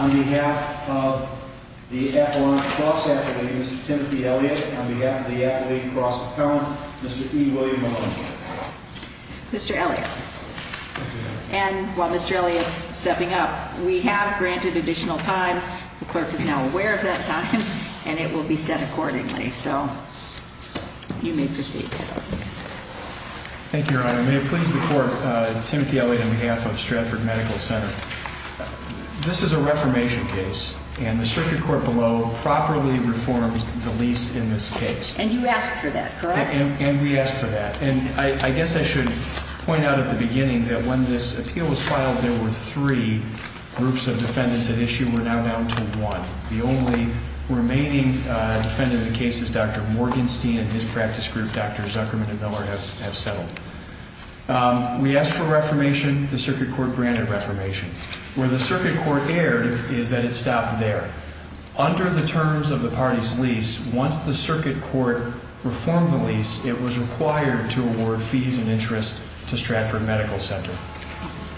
on behalf of the F1 Cross Athlete, Mr. Timothy Elliott, on behalf of the Athlete Cross Apparel, Mr. E. William Williams. Mr. Elliott. And while Mr. Elliott is stepping up, we have granted additional time, the court is now aware of that time, and it will be sent accordingly. So, you may proceed. Thank you, Your Honor. May I please report, uh, Timothy Elliott on behalf of Stratford Medical Center. This is a reformation case, and the circuit court below properly reforms the lease in this case. And you asked for that, correct? And we asked for that. And I guess I should point out at the beginning that when this appeal was filed, there were three groups of defendants at issue, and we're now down to one. The only remaining, uh, defendant in the case is Dr. Morgenstein, and his practice group, Dr. Zuckerman and Miller, have settled. Um, we asked for reformation, the circuit court granted reformation. Where the circuit court erred is that it stopped there. Under the terms of the party's lease, once the circuit court reformed the lease, it was required to award fees and interest to Stratford Medical Center.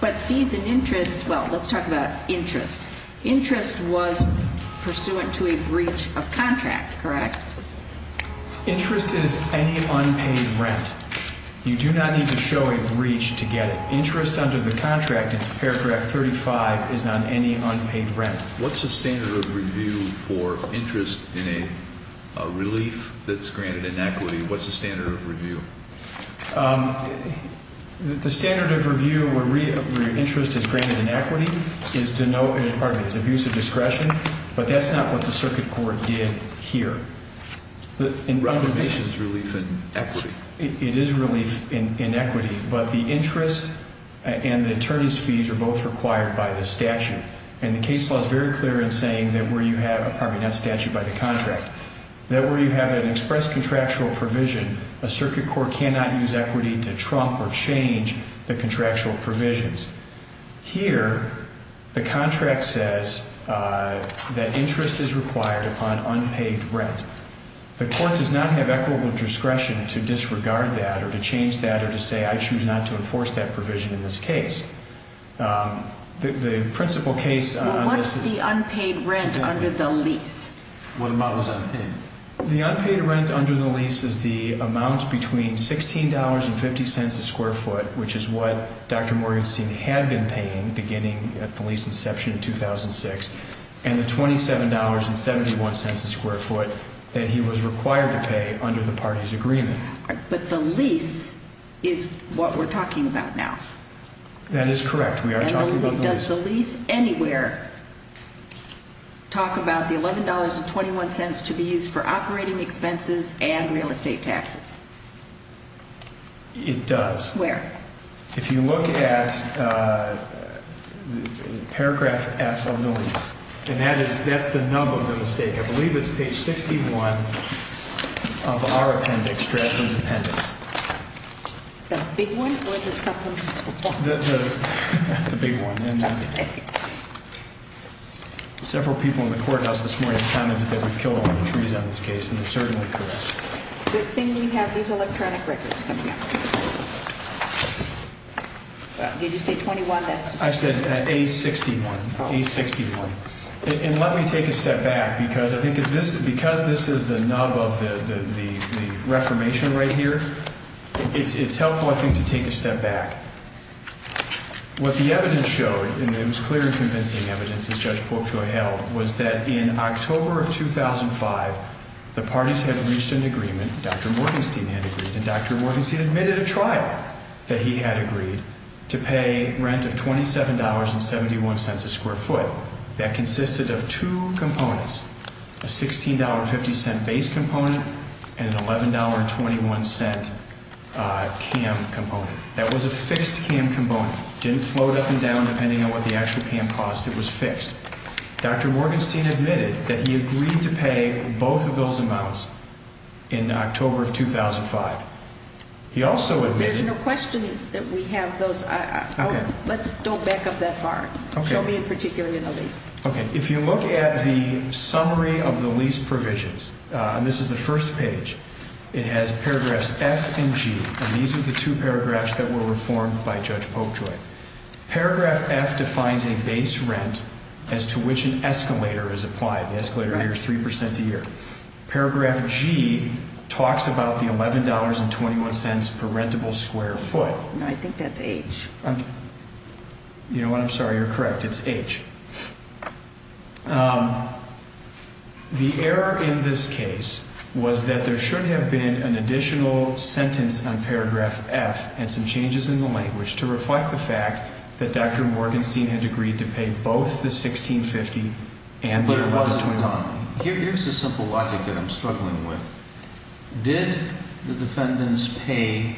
But fees and interest, well, let's talk about interest. Interest was pursuant to a breach of contract, correct? Interest is any unpaid rent. You do not need to show a breach to get it. Interest under the contract, paragraph 35, is on any unpaid rent. What's the standard of review for interest in a relief that's granted in equity? What's the standard of review? Um, the standard of review where interest is granted in equity is to know it is part of his abuse of discretion. But that's not what the circuit court did here. It is relief in equity. It is relief in equity, but the interest and the attorney's fees are both required by the statute. And the case law is very clear in saying that where you have a part of that statute by the contract, that where you have an express contractual provision, a circuit court cannot use equity to trump or change the contractual provisions. Here, the contract says that interest is required upon unpaid rent. The court does not have equitable discretion to disregard that or to change that or to say I choose not to enforce that provision in this case. The principal case... What's the unpaid rent under the lease? The unpaid rent under the lease is the amount between $16.50 a square foot, which is what Dr. Morgensen had been paying beginning at the lease inception in 2006, and the $27.71 a square foot that he was required to pay under the party's agreement. But the lease is what we're talking about now. That is correct. We are talking about the lease. Does the lease anywhere talk about the $11.21 to be used for operating expenses and real estate taxes? It does. Where? If you look at paragraph F on the lease, and that's the number of the mistake. I believe it's page 61 of our appendix, draft independent. The big one? The big one. Several people in the courthouse this morning commented that we've killed a lot of trees on this case, and they're certainly correct. The thing we have is electronic records. Did you say 21? I said page 61. And let me take a step back, because I think because this is the nub of the reformation right here, it's helpful, I think, to take a step back. What the evidence showed, and it was clearly convincing evidence, as Judge Polk showed out, was that in October of 2005, the parties had reached an agreement, Dr. Morgensen had agreed, and Dr. Morgensen admitted at trial that he had agreed to pay rent of $27.71 a square foot. That consisted of two components, a $16.50 base component and an $11.21 camp component. That was a fixed camp component. It didn't float up and down depending on what the actual camp cost. It was fixed. Dr. Morgensen admitted that he agreed to pay both of those amounts in October of 2005. There's no question that we have those. Don't back up that far. Show me in particular the lease. If you look at the summary of the lease provisions, and this is the first page, it has paragraphs F and G, and these are the two paragraphs that were reformed by Judge Polk to it. Paragraph F defines a base rent as to which an escalator is applied. The escalator here is 3% a year. Paragraph G talks about the $11.21 per rentable square foot. I think that's H. I'm sorry, you're correct. It's H. The error in this case was that there shouldn't have been an additional sentence on paragraph F and some changes in the language to reflect the fact that Dr. Morgensen had agreed to pay both the $16.50 and the $1.29. Here's the simple logic that I'm struggling with. Did the defendants pay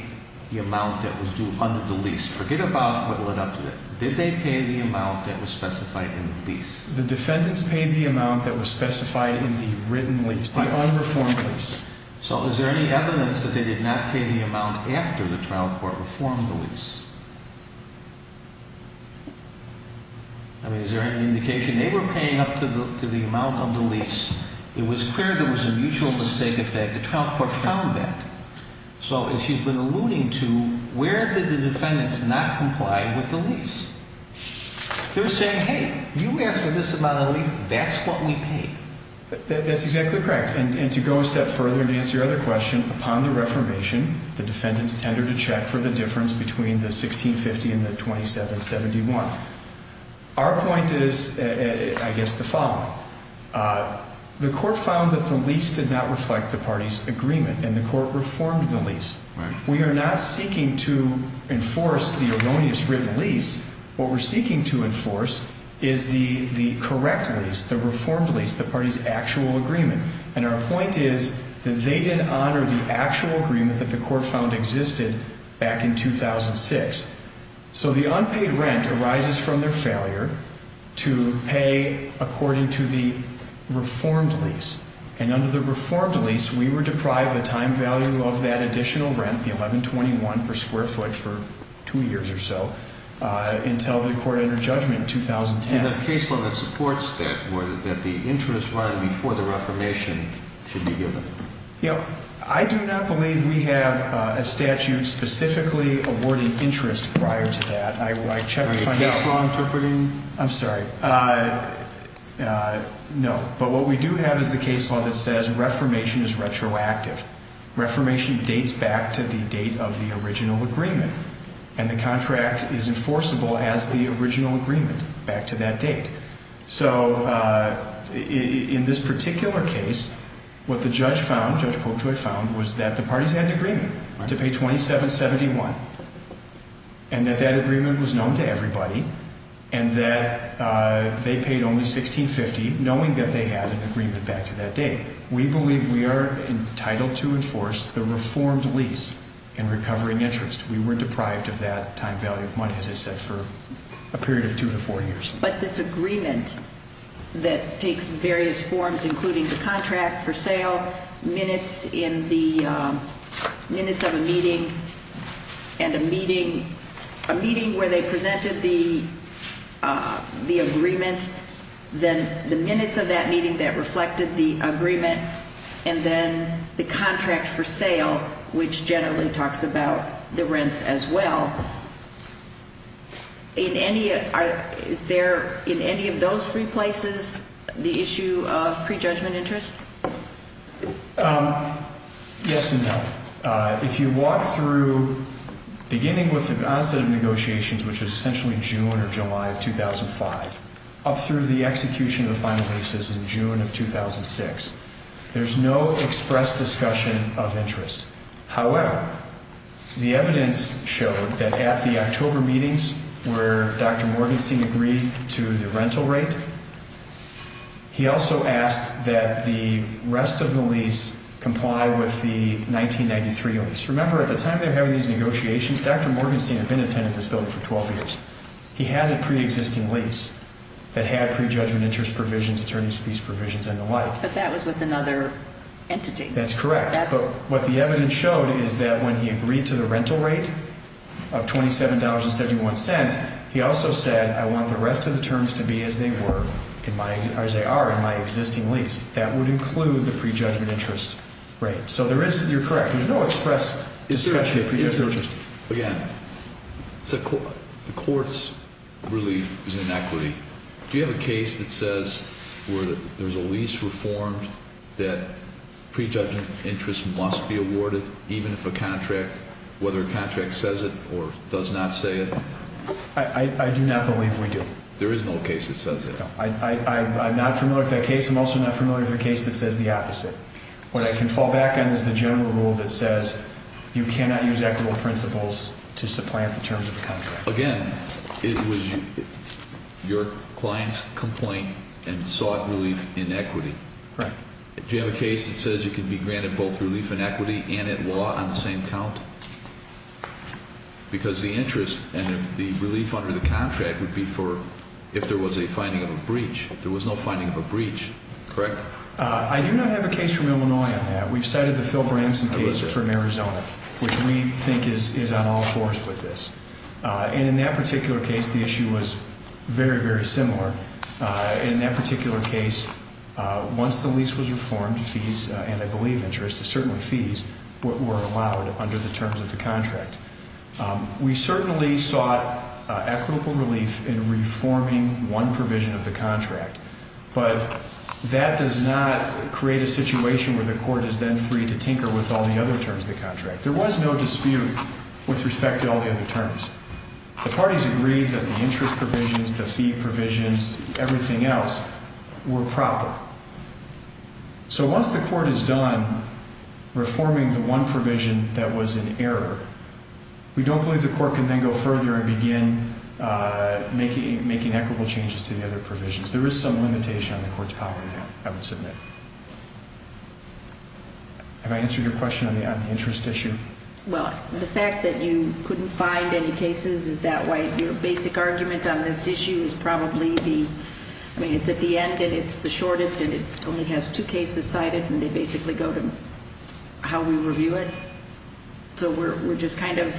the amount that was due under the lease? Forget about what went up to it. Did they pay the amount that was specified in the lease? The defendants paid the amount that was specified in the written lease. But on the form of this. So is there any evidence that they did not pay the amount after the trial court reformed the lease? I mean, is there any indication? They were paying up to the amount on the lease. It was clear there was a mutual mistake at that. The trial court found that. So, as you've been alluding to, where did the defendants not comply with the lease? They were saying, hey, you asked for this amount on the lease. That's what we paid. That's exactly correct. And to go a step further and answer your other question, upon the reformation, the defendants entered a check for the difference between the $16.50 and the $27.71. Our point is, I guess, the following. The court found that the lease did not reflect the party's agreement, and the court reformed the lease. We are not seeking to enforce the erroneous written lease. What we're seeking to enforce is the correct lease, the reformed lease, the party's actual agreement. And our point is that they did honor the actual agreement that the court found existed back in 2006. So the unpaid rent arises from their failure to pay according to the reformed lease. And under the reformed lease, we were deprived the time value of that additional rent, the $11.21 per square foot, for two years or so, until the court entered judgment in 2010. And the case law that supports that was that the interest loan before the reformation should be given. Yeah. I do not believe we have a statute specifically awarding interest prior to that. I would like to check with you. Wait. Are they strong for proving? I'm sorry. No. But what we do have is a case law that says reformation is retroactive. Reformation dates back to the date of the original agreement. And the contract is enforceable as the original agreement back to that date. So in this particular case, what the judge found, Judge Folkman found, was that the parties had an agreement to pay $27.71. And that that agreement was known to everybody. And that they paid only $16.50, knowing that they had an agreement back to that date. We believe we are entitled to enforce the reformed lease and recovering interest. We were deprived of that time-valued money, as I said, for a period of two to four years. But this agreement that takes various forms, including the contract for sale, minutes in the minutes of a meeting, and a meeting where they presented the agreement, then the minutes of that meeting that reflected the agreement, and then the contract for sale, which generally talks about the rents as well. In any of those three places, the issue of prejudgment interest? Yes, ma'am. If you walk through, beginning with the positive negotiations, which is essentially June or July of 2005, up through the execution of the final leases in June of 2006, there's no express discussion of interest. However, the evidence showed that at the October meetings where Dr. Morgenstein agreed to the rental rate, he also asked that the rest of the lease comply with the 1993 lease. Remember, at the time they were having these negotiations, Dr. Morgenstein had been a tenant of this building for 12 years. He had a preexisting lease that had prejudgment interest provisions, attorneys' fees provisions, and the like. But that was with another entity. That's correct. But what the evidence showed is that when he agreed to the rental rate of $27.71, he also said, I want the rest of the terms to be as they are in my existing lease. That would include the prejudgment interest rate. So there is, you're correct, there's no express discussion of interest. Yeah. The court's relief is inequity. Do you have a case that says where there's a lease reformed that prejudgment interest must be awarded, even if a contract, whether a contract says it or does not say it? I do not believe we do. There is no case that says that. I'm not familiar with that case. I'm also not familiar with a case that says the opposite. What I can fall back on is the general rule that says you cannot use equitable principles to supply the terms of a contract. Again, it was your client's complaint and sought relief in equity. Correct. Do you have a case that says you can be granted both relief in equity and at law on the same count? Because the interest and the relief under the contract would be for if there was a finding of a breach. There was no finding of a breach. Correct? I do not have a case from Illinois on that. We've cited the Phil Branson case from Arizona, which we think is on all fours with this. And in that particular case, the issue was very, very similar. In that particular case, once the lease was reformed, fees, and I believe interest, certainly fees were allowed under the terms of the contract. We certainly sought equitable relief in reforming one provision of the contract. But that does not create a situation where the court is then free to tinker with all the other terms of the contract. There was no dispute with respect to all the other terms. The parties agreed that the interest provisions, the fee provisions, everything else were proper. So once the court is done reforming the one provision that was an error, we don't believe the court can then go further and begin making equitable changes to the other provisions. There is some limitation on the court's power to have it submitted. Have I answered your question on the interest issue? Well, the fact that you couldn't find any cases, is that why your basic argument on this issue is probably the, I mean, it's at the end, and it's the shortest, and it only has two cases cited, and they basically go to how we review it? So we're just kind of,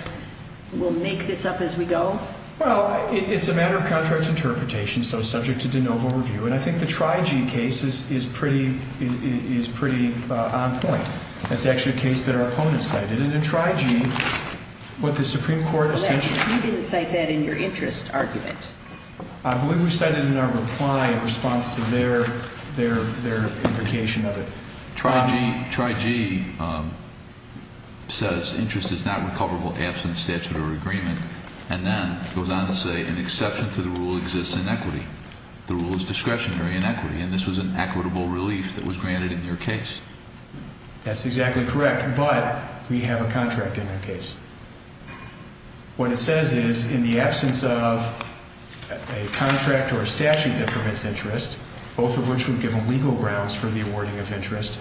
we'll make this up as we go? Well, it's a matter of contract interpretation, so subject to de novo review. And I think the Tri-G case is pretty on point. That's actually a case that our opponents cited, and in Tri-G, what the Supreme Court has mentioned. You didn't cite that in your interest argument. I believe we cited it in our reply in response to their implication of it. Tri-G says interest is not recoverable absent statutory agreement, and then goes on to say an exception to the rule exists in equity. The rule is discretionary in equity, and this was an equitable relief that was granted in your case. That's exactly correct, but we have a contract in that case. What it says is, in the absence of a contract or a statute that permits interest, both of which would give legal grounds for the awarding of interest,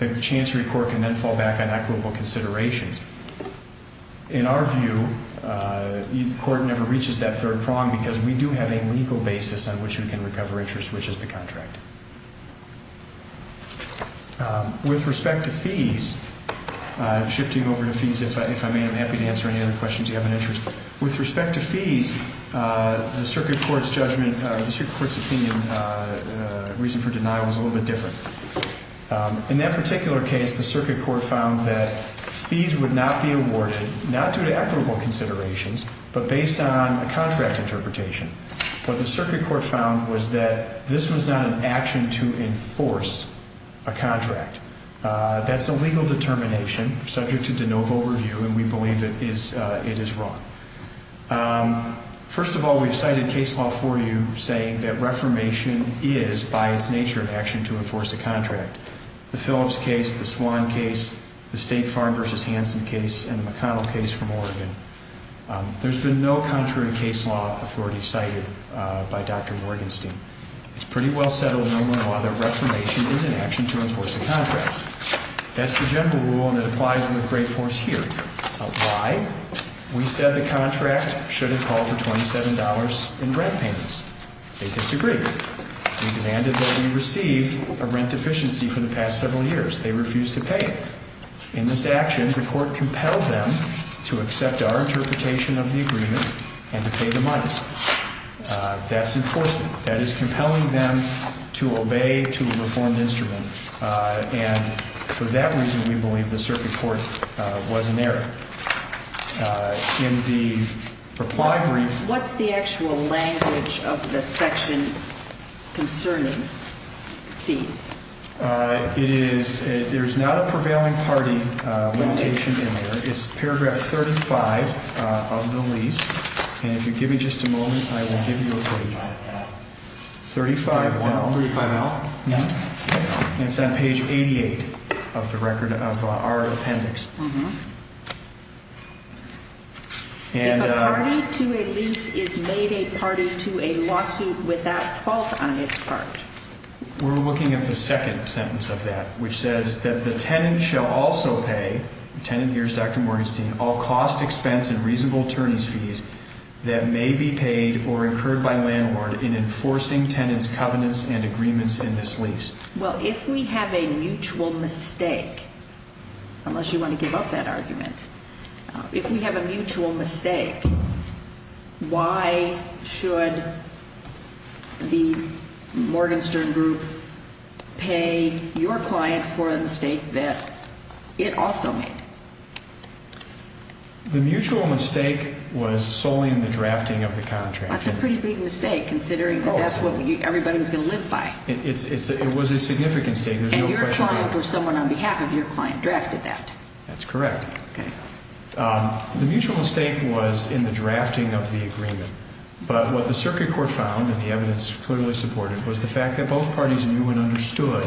a chancery court can then fall back on equitable considerations. In our view, the court never reaches that third prong because we do have a legal basis on which we can recover interest, which is the contract. With respect to fees, I'm shifting over to fees. If I may, I'm happy to answer any other questions you have in interest. With respect to fees, the circuit court's judgment, the circuit court's opinion, reason for denial is a little bit different. In that particular case, the circuit court found that fees would not be awarded, not through equitable considerations, but based on a contract interpretation. What the circuit court found was that this was not an action to enforce a contract. That's a legal determination subject to de novo review, and we believe that it is wrong. First of all, we've cited case law for you saying that reformation is, by its nature of action, to enforce a contract. The Phillips case, the Swan case, the State Farm v. Hanson case, and the McConnell case from Oregon. There's been no contrary case law authority cited by Dr. Morgenstien. It's pretty well settled and normally a lot of their reclamation is an action to enforce a contract. That's the general rule and it applies to the great force here. Why? We said the contract should have called for $27 in rent payments. They disagreed. They demanded that we receive a rent deficiency for the past several years. They refused to pay. In this action, the court compelled them to accept our interpretation of the agreement and to pay the minus. That's enforcement. That is compelling them to obey to a reformed instrument, and for that reason we believe the circuit court wasn't there. In the reply brief- What's the actual language of the section concerning fees? There's not a prevailing party notation in there. It's paragraph 35 of the release, and if you give me just a moment, I will give you a copy. Thirty-five. I'll read that out. It's on page 88 of the record of our appendix. If a party to a lease is made a party to a lawsuit without fault on its part. We're looking at the second sentence of that, which says that the tenant shall also pay, the tenant here is Dr. Morgenstern, all cost, expense, and reasonable terms fees that may be paid or incurred by landlord in enforcing tenant's covenants and agreements in this lease. Well, if we have a mutual mistake, unless you want to give up that argument, if we have a mutual mistake, why should the Morgenstern group pay your client for a mistake that it also made? The mutual mistake was solely in the drafting of the contract. That's a pretty big mistake, considering that's what everybody was going to live by. It was a significant mistake. And your client or someone on behalf of your client drafted that. That's correct. The mutual mistake was in the drafting of the agreement. But what the circuit court found, and the evidence clearly supported, was the fact that both parties knew and understood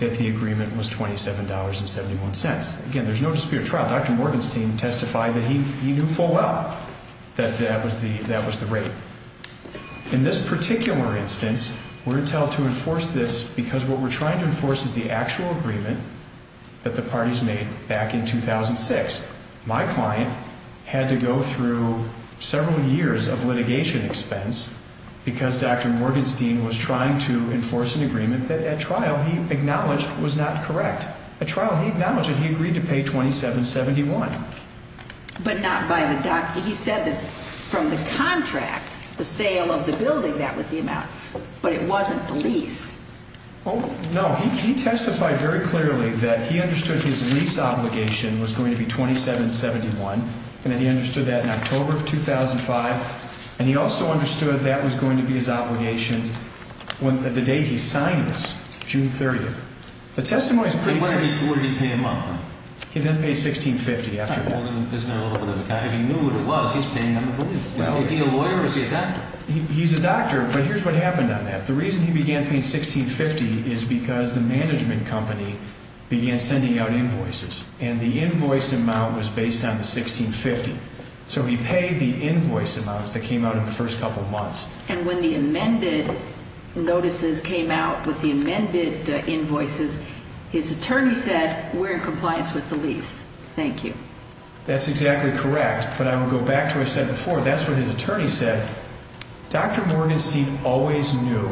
that the agreement was $27.71. Again, there's no dispute at trial. Dr. Morgenstern testified that he knew full well that that was the rate. In this particular instance, we're entitled to enforce this because what we're trying to enforce is the actual agreement that the parties made back in 2006. My client had to go through several years of litigation expense because Dr. Morgenstern was trying to enforce an agreement that at trial he acknowledged was not correct. At trial he acknowledged it. He agreed to pay $27.71. But not by the doctor. He said that from the contract, the sale of the building, that was the amount. But it wasn't the lease. Oh, no. He testified very clearly that he understood his lease obligation was going to be $27.71, and that he understood that in October of 2005, and he also understood that was going to be his obligation the day he signed this, June 30th. The testimony is clear. He signed it before he came up. He didn't pay $16.50 after all. He knew what it was. He knew what it was. He's a lawyer. He's a doctor. He's a doctor, but here's what happened on that. The reason he began paying $16.50 is because the management company began sending out invoices, and the invoice amount was based on the $16.50. So he paid the invoice amounts that came out in the first couple months. And when the amended notices came out with the amended invoices, his attorney said, we're in compliance with the lease. Thank you. That's exactly correct. But I will go back to what I said before. That's what his attorney said. Dr. Morgan Steve always knew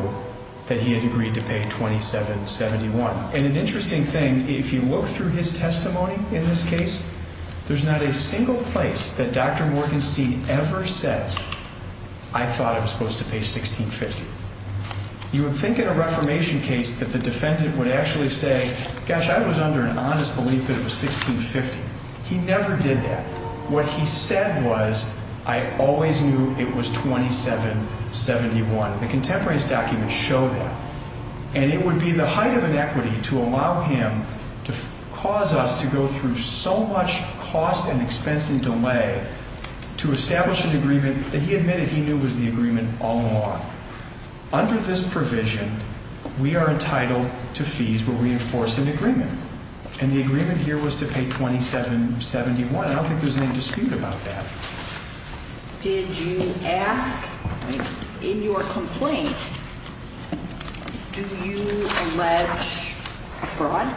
that he had agreed to pay $27.71. And an interesting thing, if you look through his testimony in this case, there's not a single place that Dr. Morgan Steve ever says, I thought I was supposed to pay $16.50. You would think in a reformation case that the defendant would actually say, gosh, I was under an honest belief that it was $16.50. He never did that. What he said was, I always knew it was $27.71. The contemporaries document showed that. And it would be the height of inequity to allow him to cause us to go through so much cost and expense and delay to establish an agreement that he admitted he knew was the agreement all along. Under this provision, we are entitled to fees for reinforcing the agreement. And the agreement here was to pay $27.71. I don't think there's any dispute about that. Did you ask in your complaint, do you allege fraud?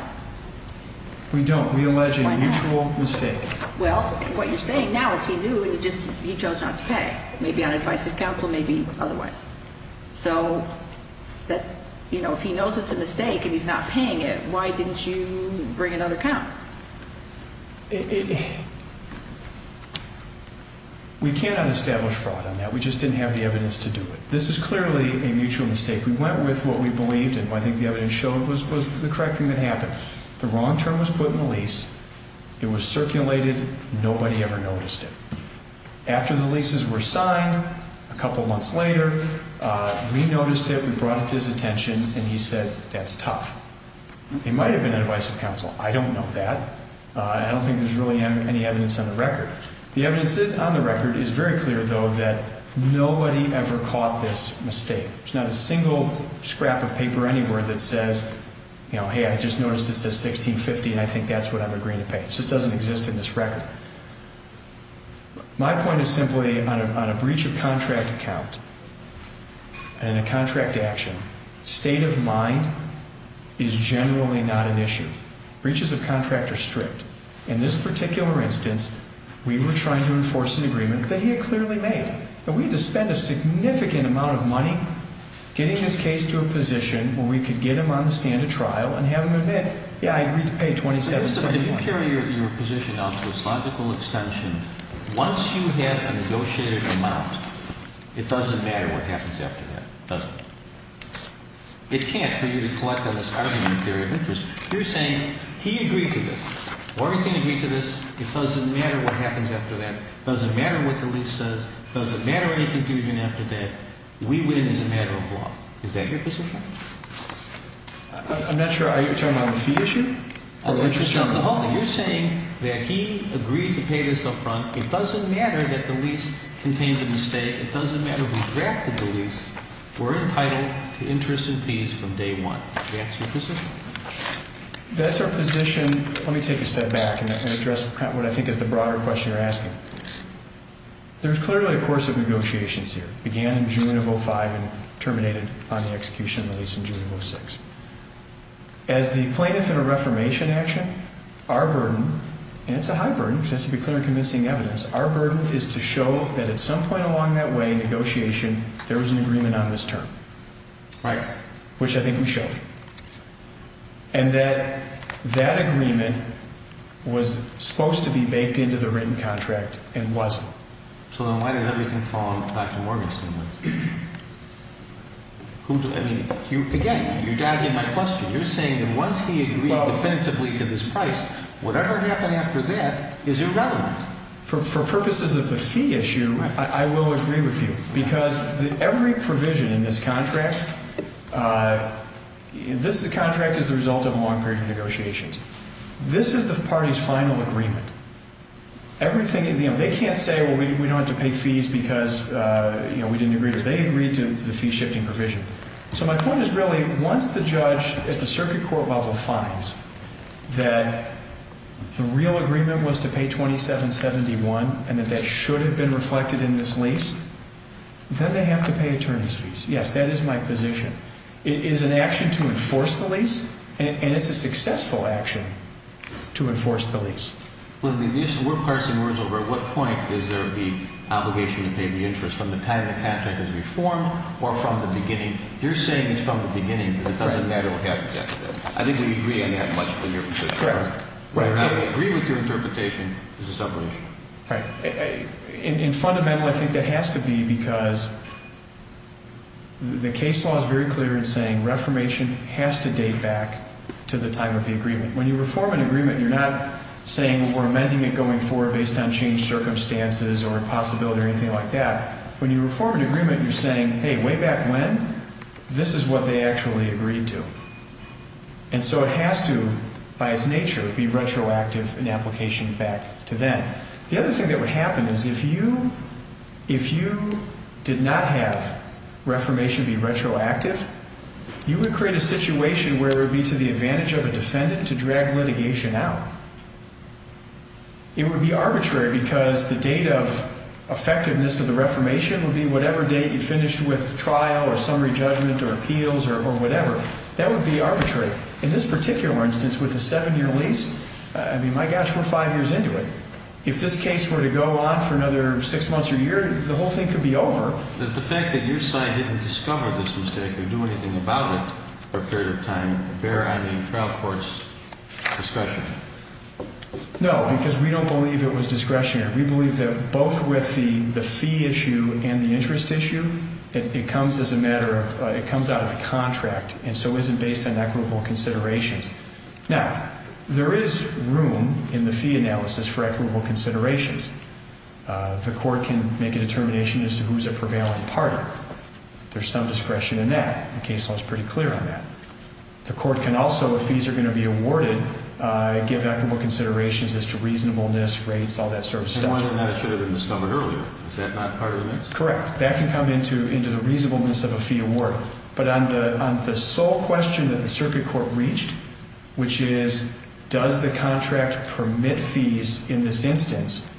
We don't. We allege a mutual mistake. Well, what you're saying now is he knew and he chose not to pay. Maybe on advice of counsel, maybe otherwise. So, you know, if he knows it's a mistake and he's not paying it, why didn't you bring it on account? We cannot establish fraud on that. We just didn't have the evidence to do it. This is clearly a mutual mistake. We went with what we believed and I think the evidence showed was the correct thing that happened. The wrong term was put in the lease. It was circulated. Nobody ever noticed it. After the leases were signed, a couple months later, we noticed it. We brought it to his attention and he said that's tough. It might have been advice of counsel. I don't know that. I don't think there's really any evidence on the record. The evidence that's on the record is very clear, though, that nobody ever caught this mistake. There's not a single scrap of paper anywhere that says, you know, hey, I just noticed it says $16.50 and I think that's what I'm agreeing to pay. It just doesn't exist in this record. My point is simply on a breach of contract account and a contract action, state of mind is generally not an issue. Breaches of contract are strict. In this particular instance, we were trying to enforce an agreement that he had clearly made. We had to spend a significant amount of money getting his case to a position where we could get him on the stand at trial and have him admit, yeah, I agree to pay $27.75. Can you clarify your position on philosophical extension? Once you have a negotiated amount, it doesn't matter what happens after that. It doesn't. It can't be that you collect on this argument theory of interest. You're saying he agreed to this or he didn't agree to this. It doesn't matter what happens after that. It doesn't matter what the lease says. It doesn't matter what he's doing after that. We win as a matter of law. Is that your position? I'm not sure. Are you talking about the fee issue? You're saying that he agreed to pay this up front. It doesn't matter that the lease contains a mistake. It doesn't matter who drafted the lease. We're entitled to interest and fees from day one. Is that your position? That's our position. Let me take a step back and address what I think is the broader question you're asking. There's clearly a course of negotiations here. It began in June of 2005 and terminated on the execution of the lease in June of 2006. As the plaintiff in a reformation action, our burden, and it's a high burden, because it has to be clear to missing evidence, our burden is to show that at some point along that way in negotiation, there was an agreement on this term. Right. Which I think we showed. And that that agreement was supposed to be baked into the written contract and wasn't. So then why did everything fall into Dr. Morgan's hands? Again, you're dodging my question. You're saying that once he agreed defensively to this price, whatever happened after that is irrelevant. For purposes of the fee issue, I will agree with you. Because every provision in this contract, this contract is the result of long-period negotiations. This is the party's final agreement. Everything, you know, they can't say, well, we don't have to pay fees because, you know, we didn't agree because they agreed to the fee-shifting provision. So my point is, really, once the judge at the circuit court level finds that the real agreement was to pay $2,771 and that that should have been reflected in this lease, then they have to pay attorney's fees. Yes, that is my position. It is an action to enforce the lease, and it's a successful action to enforce the lease. We'll parse some words over. At what point is there the obligation to pay the interest from the time the contract is reformed or from the beginning? You're saying it's from the beginning, but it doesn't matter what happens afterwards. I think you'd agree on that much earlier. Correct. Right. I agree with your interpretation. This is not an issue. Right. In fundamental, I think it has to be because the case law is very clear in saying reformation has to date back to the time of the agreement. When you reform an agreement, you're not saying we're amending it going forward based on changed circumstances or a possibility or anything like that. When you reform an agreement, you're saying, hey, way back when, this is what they actually agreed to. And so it has to, by its nature, be retroactive in application back to then. The other thing that would happen is if you did not have reformation be retroactive, you would create a situation where it would be to the advantage of a defendant to drag litigation out. It would be arbitrary because the date of effectiveness of the reformation would be whatever date you finished with trial or summary judgment or appeals or whatever. That would be arbitrary. In this particular instance, with a seven-year lease, I mean, my gosh, we're five years into it. If this case were to go on for another six months or a year, the whole thing could be over. Does the fact that your side didn't discover this mistake or do anything about it for a period of time bear out of the trial court's discretion? No, because we don't believe it was discretionary. We believe that both with the fee issue and the interest issue, it comes out of the contract and so isn't based on equitable considerations. Now, there is room in the fee analysis for equitable considerations. The court can make a determination as to who's a prevailing party. There's some discretion in that. The case law is pretty clear on that. The court can also, if fees are going to be awarded, give equitable considerations as to reasonableness, rates, all that sort of stuff. The one I showed in the stomach earlier, is that not part of the case? Correct. That can come into the reasonableness of a fee award. But on the sole question that the circuit court reached, which is, does the contract permit fees in this instance,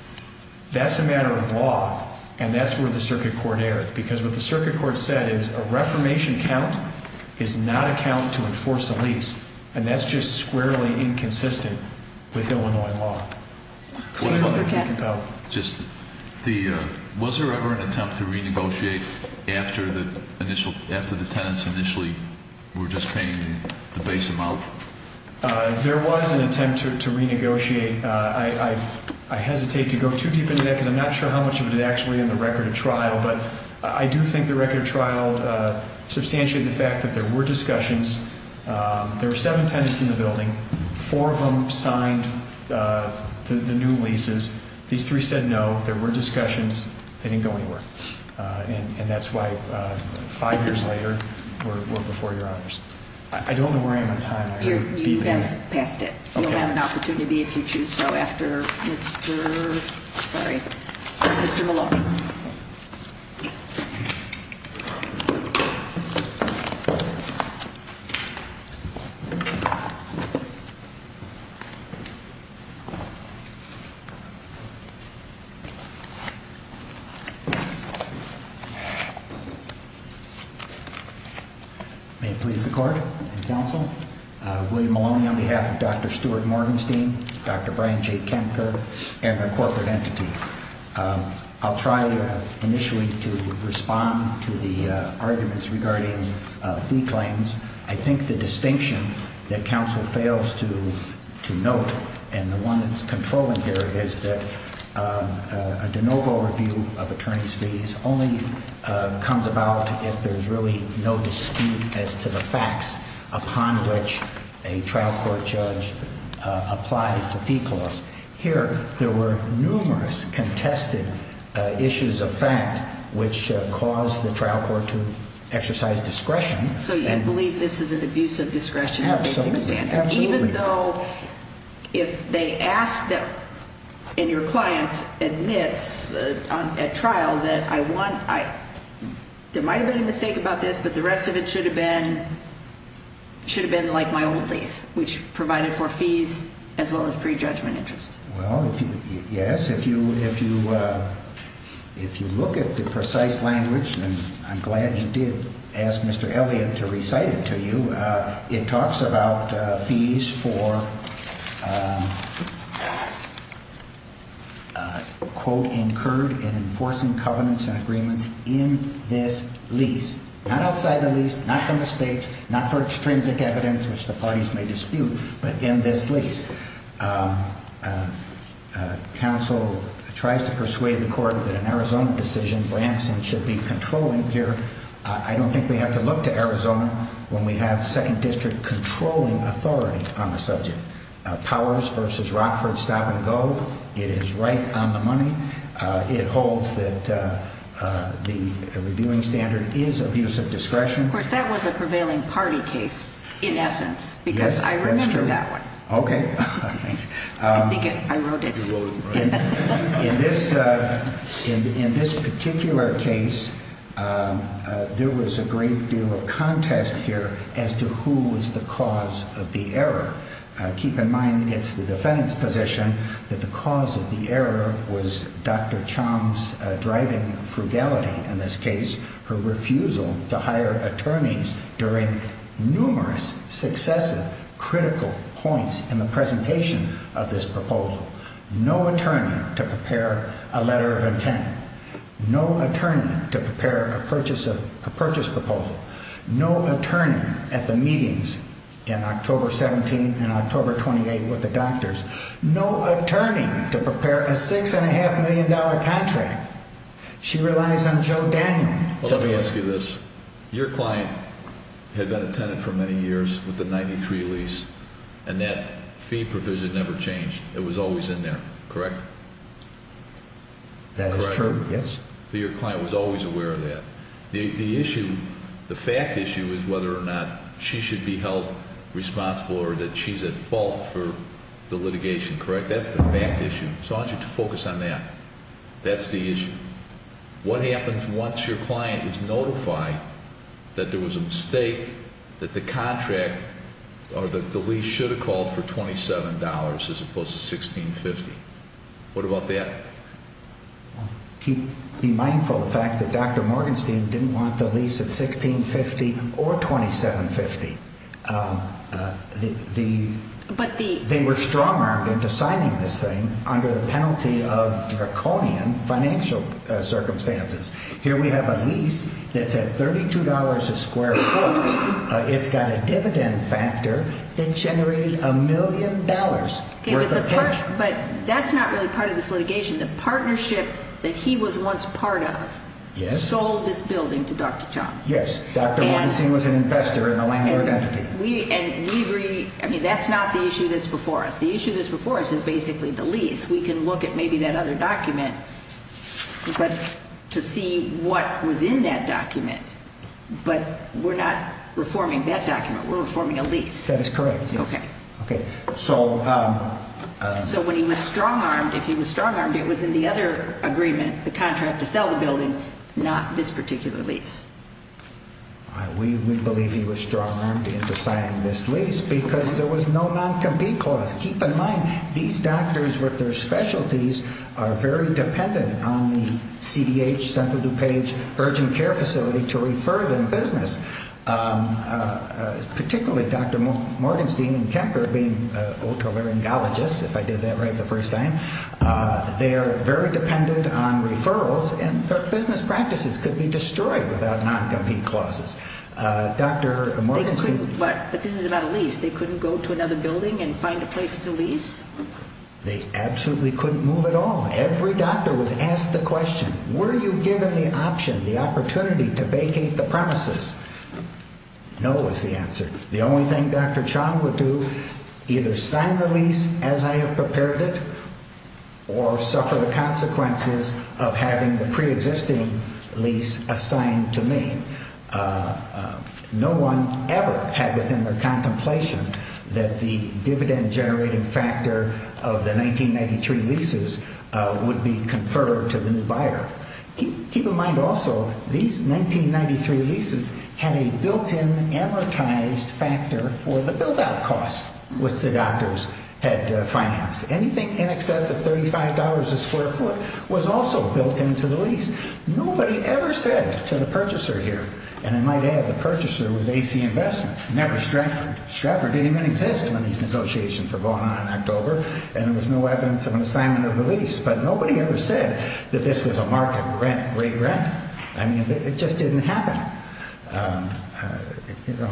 that's a matter of law and that's where the circuit court erred. Because what the circuit court said is, a reformation count is not a count to enforce a lease. And that's just squarely inconsistent with Illinois law. Was there ever an attempt to renegotiate after the tenants initially were just paying the base amount? There was an attempt to renegotiate. I hesitate to go too deep into that because I'm not sure how much of it is actually in the record of trial. But I do think the record of trial substantiated the fact that there were discussions. There were seven tenants in the building. Four of them signed the new leases. These three said no. There were discussions. They didn't go anywhere. And that's why five years later, we're before your honors. I don't want to worry about time. You're past it. You'll have an opportunity if you choose so after Mr. Maloney. Thank you. Thank you. Thank you. May it please the court, counsel, William Maloney on behalf of Dr. Stuart Morgenstein, Dr. Brian J. Kemper, and the corporate entity. I'll try initially to respond to the arguments regarding plea claims. I think the distinction that counsel fails to note, and the one that's controlling here, is that the noble review of attorney's fees only comes about if there's really no dispute as to the facts upon which a trial court judge applies the fee clause. Here, there were numerous contested issues of fact which caused the trial court to exercise discretion. So you believe this is an abuse of discretion? Absolutely. Even though if they ask them and your client admits at trial that I won, there might have been a mistake about this, but the rest of it should have been like my old case, which provided for fees as well as pre-judgment interest. Well, yes, if you look at the precise language, and I'm glad you did ask Mr. Elliott to recite it to you, it talks about fees for, quote, incurred in enforcing covenants and agreements in this lease. Not outside the lease, not from the state, not for extrinsic evidence which the parties may dispute, but in this lease. Counsel tries to persuade the court that an Arizona decision by Anderson should be controlling here. I don't think we have to look to Arizona when we have second district controlling authority on the subject. Towers versus Rockford, stop and go. It is right on the money. It holds that the reviewing standard is abuse of discretion. Of course, that was a prevailing party case, in essence, because I remember that. Okay. I think I wrote that down. In this particular case, there was a great deal of contest here as to who was the cause of the error. Keep in mind, it's the defendant's position that the cause of the error was Dr. Choms' driving frugality in this case, her refusal to hire attorneys during numerous successive critical points in the presentation of this proposal. No attorney to prepare a letter of intent. No attorney to prepare a purchase proposal. No attorney at the meetings in October 17 and October 28 with the doctors. No attorney to prepare a $6.5 million contract. She relies on Joe Daniel. Let me ask you this. Your client had been a tenant for many years with the 93 lease, and that fee provision never changed. It was always in there, correct? That is true, yes. So your client was always aware of that. The issue, the fact issue, is whether or not she should be held responsible or that she's at fault for the litigation, correct? That's the fact issue. So I want you to focus on that. That's the issue. What happens once your client is notified that there was a mistake, that the lease should have called for $27 as opposed to $16.50? What about that? Be mindful of the fact that Dr. Morgenstein didn't want the lease at $16.50 or $27.50. They were strong-armed in deciding this thing under the penalty of draconian financial circumstances. Here we have a lease that's at $32 a square foot. It's got a dividend factor that generates a million dollars worth of pension. But that's not really part of this litigation. The partnership that he was once part of sold this building to Dr. Johns. Yes. Dr. Morgenstein was an investor in a land of equity. That's not the issue that's before us. The issue that's before us is basically the lease. We can look at maybe that other document to see what was in that document, but we're not reforming that document. We're reforming a lease. That is correct, yes. Okay. So when he was strong-armed, if he was strong-armed, it was in the other agreement, the contract to sell the building, not this particular lease. We believe he was strong-armed in deciding this lease because there was no non-compete clause. Keep in mind, these doctors with their specialties are very dependent on the CDH, Center DuPage Urgent Care Facility to refer them to business, particularly Dr. Morgenstein and Kemper being old-timer endologists, if I did that right the first time. They're very dependent on referrals, and their business practices could be destroyed without non-compete clauses. Dr. Morgenstein. But the thing is about a lease. They couldn't go to another building and find a place to lease? They absolutely couldn't move at all. Every doctor was asked the question, were you given the option, the opportunity to vacate the premises? No was the answer. The only thing Dr. Chott would do, either sign the lease as I had prepared it or suffer the consequences of having the preexisting lease assigned to me. No one ever had within their contemplation that the dividend generating factor of the 1993 leases would be conferred to the new buyer. Keep in mind also, these 1993 leases had a built-in amortized factor for the build-out costs which the doctors had to finance. Anything in excess of $35 a square foot was also built into the lease. Nobody ever said to the purchaser here, and I might add the purchaser was AC Investment, never struck or did even insist on these negotiations for going on in October, and there was no evidence of an assignment of the lease. But nobody ever said that this was a market rent, great rent. I mean, it just didn't happen.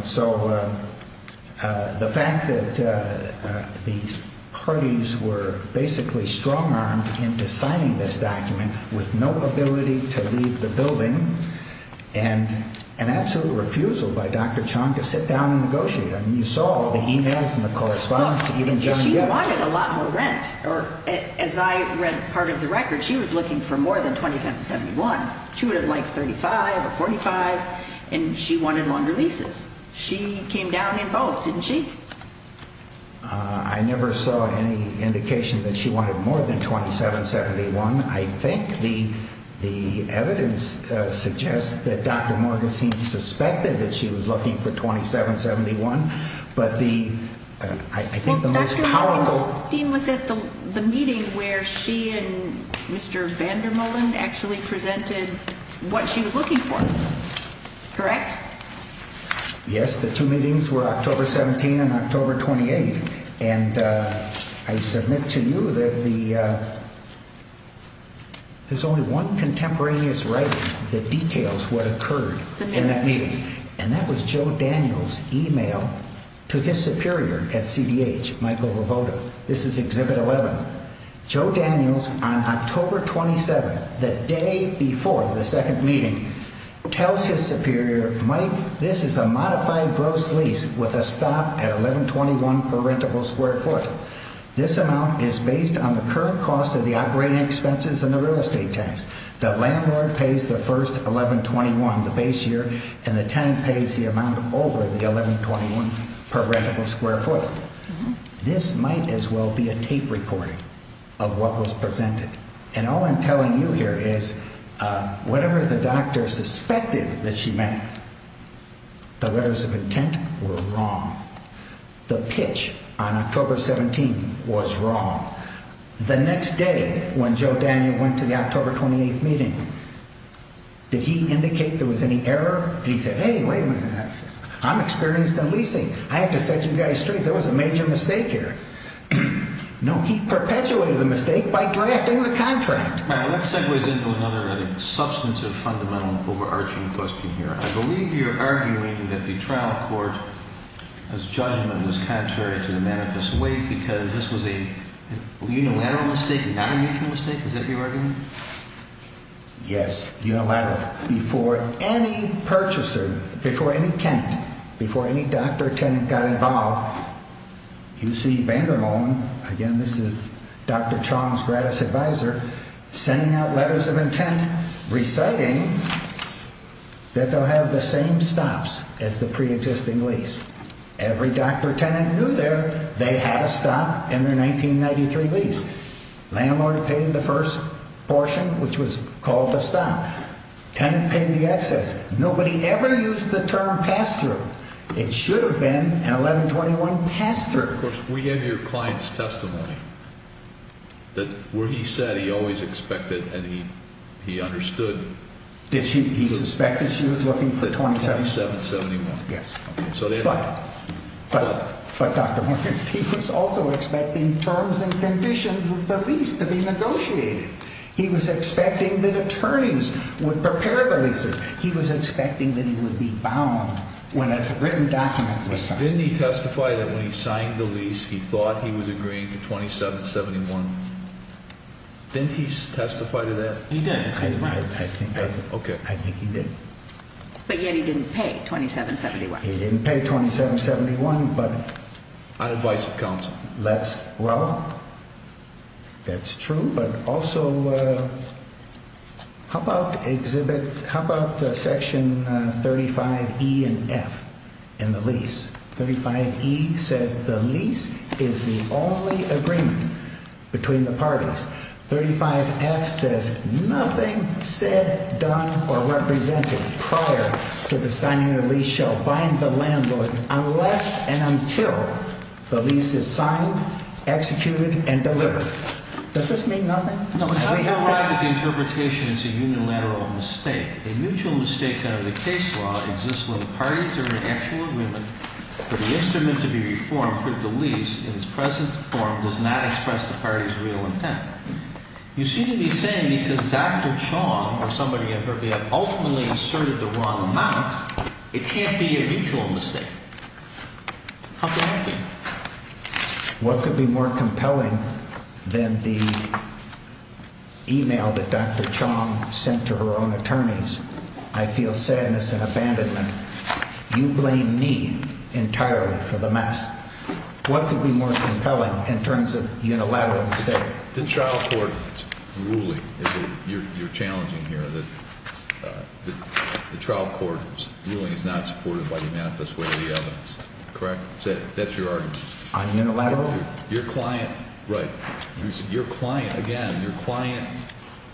So the fact that these parties were basically strong-armed into signing this document with no ability to leave the building and an absolute refusal by Dr. Chott to sit down and negotiate. I mean, you saw all the e-mails and the correspondence. She wanted a lot more rent. As I read part of the record, she was looking for more than $2,771. She would have wanted $3,500 or $4,500, and she wanted longer leases. She came down in hopes, didn't she? I never saw any indication that she wanted more than $2,771. I think the evidence suggests that Dr. Morgan seemed to suspect that she was looking for $2,771. But I think the most powerful theme was at the meeting where she and Mr. Vandermolen actually presented what she was looking for, correct? Yes, the two meetings were October 17 and October 28. I submit to you that there's only one contemporaneous writing that details what occurred in that meeting, and that was Joe Daniels' e-mail to his superior at CDH, Michael Rivota. This is Exhibit 11. Joe Daniels, on October 27, the day before the second meeting, tells his superior, this is a modified gross lease with a stop at $1,121 per rentable square foot. This amount is based on the current cost of the operating expenses and the real estate tax. The landlord pays the first $1,121, the base year, and the tenant pays the amount over the $1,121 per rentable square foot. This might as well be a tape recording of what was presented. And all I'm telling you here is whatever the doctor suspected that she meant, the letters of intent were wrong. The pitch on October 17 was wrong. The next day, when Joe Daniels went to the October 28 meeting, did he indicate there was any error? Did he say, hey, wait a minute, I'm experienced in leasing. I have to set you guys straight. There was a major mistake here. No, he perpetuated the mistake by drafting the contract. All right, let's segue into another substantive, fundamental, overarching question here. I believe you're arguing that the trial court has judged this contract in a manifest way because this was a legal error mistake. Did I make a mistake? Is that what you're arguing? Yes. Before any purchaser, before any tenant, before any doctor or tenant got involved, you see Vander Molen, again, this is Dr. Chong's gratis advisor, sending out letters of intent reciting that they'll have the same stops as the preexisting lease. Every doctor or tenant who lived there, they had a stop in their 1993 lease. Landlord paid the first portion, which was called the stop. Tenant paid the excess. Nobody ever used the term pass-through. It should have been an 1121 pass-through. We have your client's testimony that what he said he always expected and he understood. He suspected she was looking for 2771. Yes. But, but, but Dr. Mullen, he was also expecting terms and conditions with the lease to be negotiated. He was expecting that attorneys would prepare the leases. He was expecting that he would be bound when a written document was signed. Didn't he testify that when he signed the lease, he thought he was agreeing to 2771? Didn't he testify to that? He did. I think he did. But yet he didn't pay 2771. He didn't pay 2771. But I'd advise a counsel. Well, that's true. But also, how about section 35E and F in the lease? 35E says the lease is the only agreement between the parties. 35F says nothing said, done, or represented prior to the signing of the lease shall bind the landlord unless and until the lease is signed, executed, and delivered. Does this mean nothing? No. I'm glad that the interpretation is a unilateral mistake. A mutual mistake under the case law exists when the parties are in an actual agreement, but the instrument to be reformed for the lease in its present form does not express the parties' real intent. You seem to be saying that Dr. Chong, or somebody I've heard of, ultimately asserted the wrong amount. It can't be a mutual mistake. How can that be? What could be more compelling than the e-mail that Dr. Chong sent to her own attorneys? I feel sadness and abandonment. You blame me entirely for the mess. What could be more compelling in terms of unilateral mistake? The trial court ruling. You're challenging here that the trial court ruling is not supported by the manifest way of the evidence. Correct? That's your argument. Unilateral? Your client, again,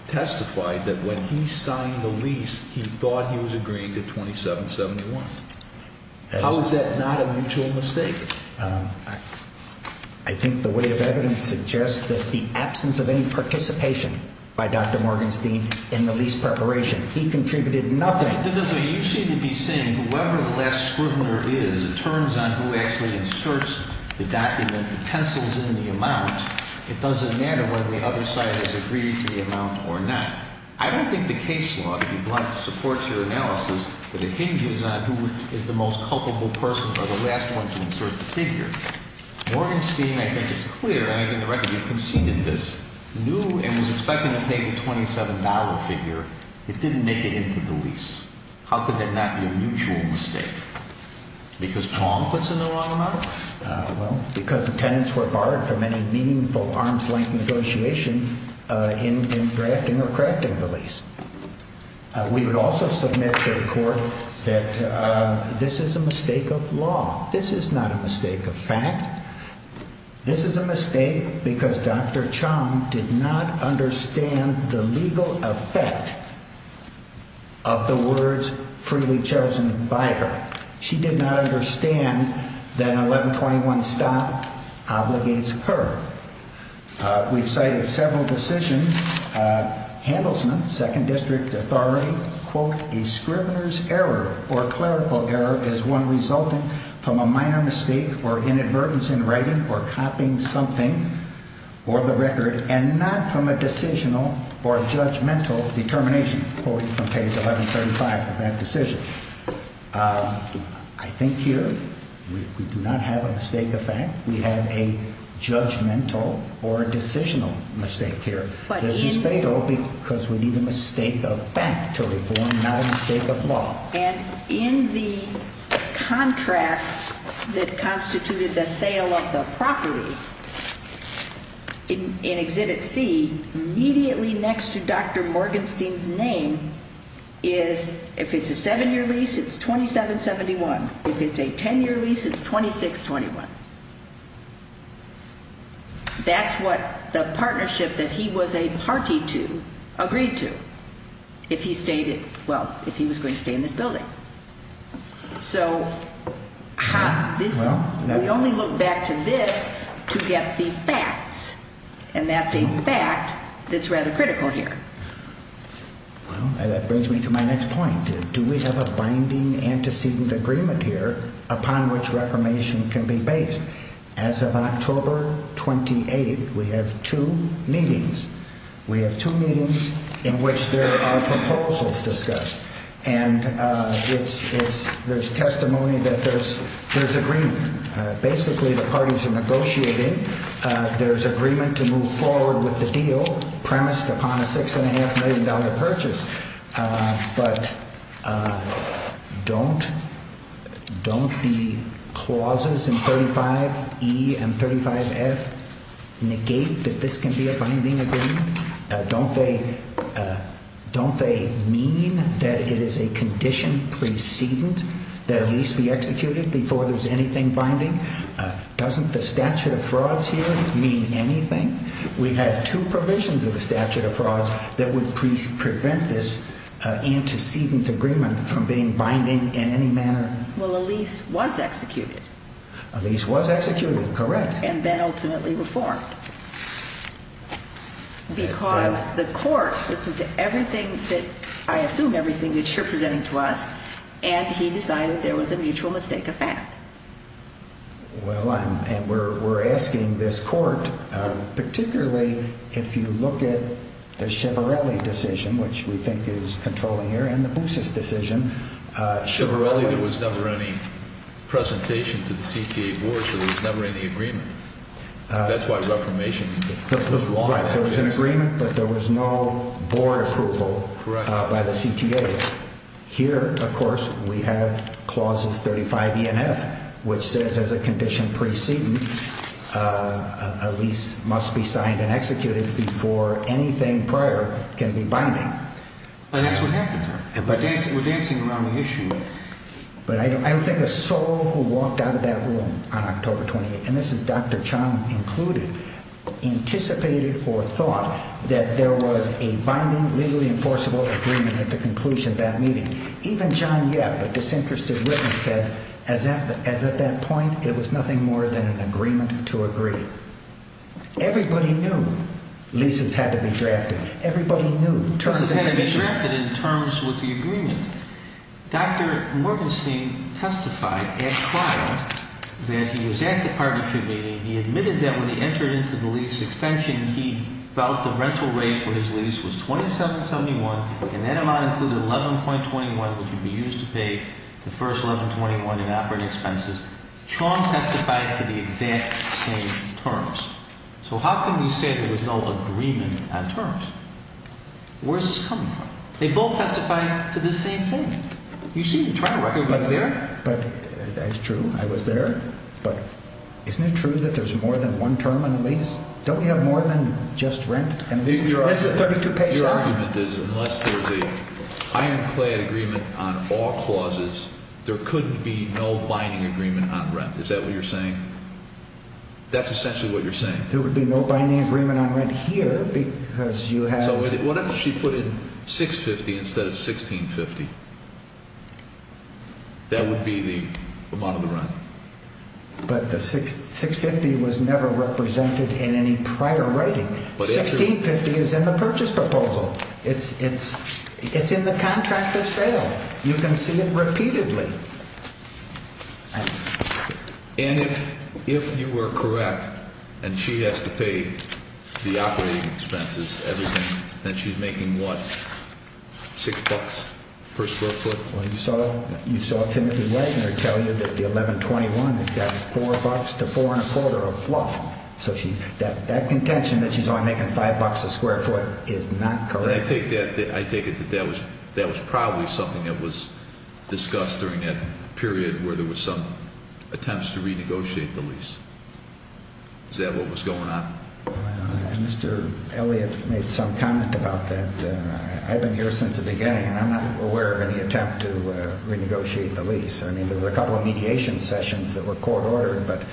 testified that when he signed the lease, he thought he was agreeing to 2771. How is that not a mutual mistake? I think the way of evidence suggests that the absence of any participation by Dr. Morgenstein in the lease preparation, he contributed nothing. You seem to be saying whoever the last scrutineer is, it turns on who actually inserts the document, utensils in the amount. It doesn't matter whether the other side has agreed to the amount or not. I don't think the case law, if you'd like to support your analysis, but it hinges on who is the most culpable person or the last one to insert the figure. Morgenstein, I think it's clear, and I think the record you've conceded this, knew and was expecting to pay the $27 figure. It didn't make it into the lease. How could that not be a mutual mistake? Because Pong puts in the wrong amount? Well, because the tenants were barred from any meaningful arms-length negotiation in drafting or crafting the lease. We would also submit to the court that this is a mistake of law. This is not a mistake of fact. This is a mistake because Dr. Chong did not understand the legal effect of the words freely chosen by her. She did not understand that an 1121 stop obligates her. We've cited several decisions. Handelsman, 2nd District Authority, quote, A scrivener's error or clerical error is one resultant from a minor mistake or inadvertence in writing or copying something or the record and not from a decisional or judgmental determination, quote, from case 1135 of that decision. I think here we do not have a mistake of fact. We have a judgmental or a decisional mistake here. It's a mistake because we need a mistake of fact to reform, not a mistake of law. And in the contract that constituted the sale of the property in exited fee, immediately next to Dr. Morgenstein's name is, if it's a 7-year lease, it's $27.71. If it's a 10-year lease, it's $26.21. That's what the partnership that he was a party to agreed to if he was going to stay in this building. So we only look back to this to get the facts, and that's a fact that's rather critical here. Well, that brings me to my next point. Do we have a binding antecedent agreement here upon which reformation can be based? As of October 28, we have two meetings. We have two meetings in which there are proposals discussed, and there's testimony that there's agreement. Basically, the parties are negotiating. There's agreement to move forward with the deal premised upon a $6.5 million purchase. But don't the clauses in 35E and 35F negate that this can be a binding agreement? Don't they mean that it is a condition precedence that a lease be executed before there's anything binding? Doesn't the statute of frauds here mean anything? We have two provisions in the statute of frauds that would prevent this antecedent agreement from being binding in any manner. Well, a lease was executed. A lease was executed, correct. And then ultimately reformed. Because the court, this is everything that ‑‑ I assume everything that you're presenting to us, and he decided there was a mutual mistake of fact. Well, and we're asking this court, particularly if you look at the Chivarelli decision, which we think is controlling here, and the Busses decision. Chivarelli, there was never any presentation to the CTA board, so there was never any agreement. That's why reformation was wrong. There was an agreement, but there was no board approval by the CTA. Here, of course, we have clauses 35E and 35F, which says as a condition precedence, a lease must be signed and executed before anything prior can be binding. And that's what happens. We're dancing around the issue. But I think a soul who walked out of that room on October 28th, and this is Dr. Chong included, anticipated or thought that there was a binding, legally enforceable agreement at the conclusion of that meeting. Even Chong, yes, but disinterested Whitman said, as at that point, there was nothing more than an agreement to agree. Everybody knew leases had to be drafted. Everybody knew terms had to be ‑‑ Dr. Mortenstein testified at trial that in the exact departure meeting, he admitted that when he entered into the lease extension, he felt the rental rate for his lease was $27.71, and that amount included $11.21 that would be used to pay the first $11.21 in operating expenses. Chong testified to the exact same terms. So how can we say there was no agreement on terms? Where's this coming from? They both testified to the same thing. You see, you're talking about you were there. That's true, I was there. But isn't it true that there's more than one term on the lease? Don't we have more than just rent? Your argument is unless there's a ironclay agreement on all clauses, there could be no binding agreement on rent. Is that what you're saying? That's essentially what you're saying. There would be no binding agreement on rent here because you have ‑‑ What if she put in $6.50 instead of $16.50? That would be the bottom line. But the $6.50 was never represented in any prior writing. $16.50 is in the purchase proposal. It's in the contract of sale. You can see it repeatedly. And if you were correct, and she has to pay the operating expenses, everything that she's making, what, $6 per square foot? You saw Timothy Wagner tell you that the 1121 has got $4 to $4.40 a block. So that contention that she's only making $5 a square foot is not correct. I take it that that was probably something that was discussed during the hearing. We had a period where there were some attempts to renegotiate the lease. Is that what was going on? Mr. Elliott made some comment about that. I've been here since the beginning. I'm not aware of any attempt to renegotiate the lease. I mean, there were a couple of mediation sessions that were court ordered, but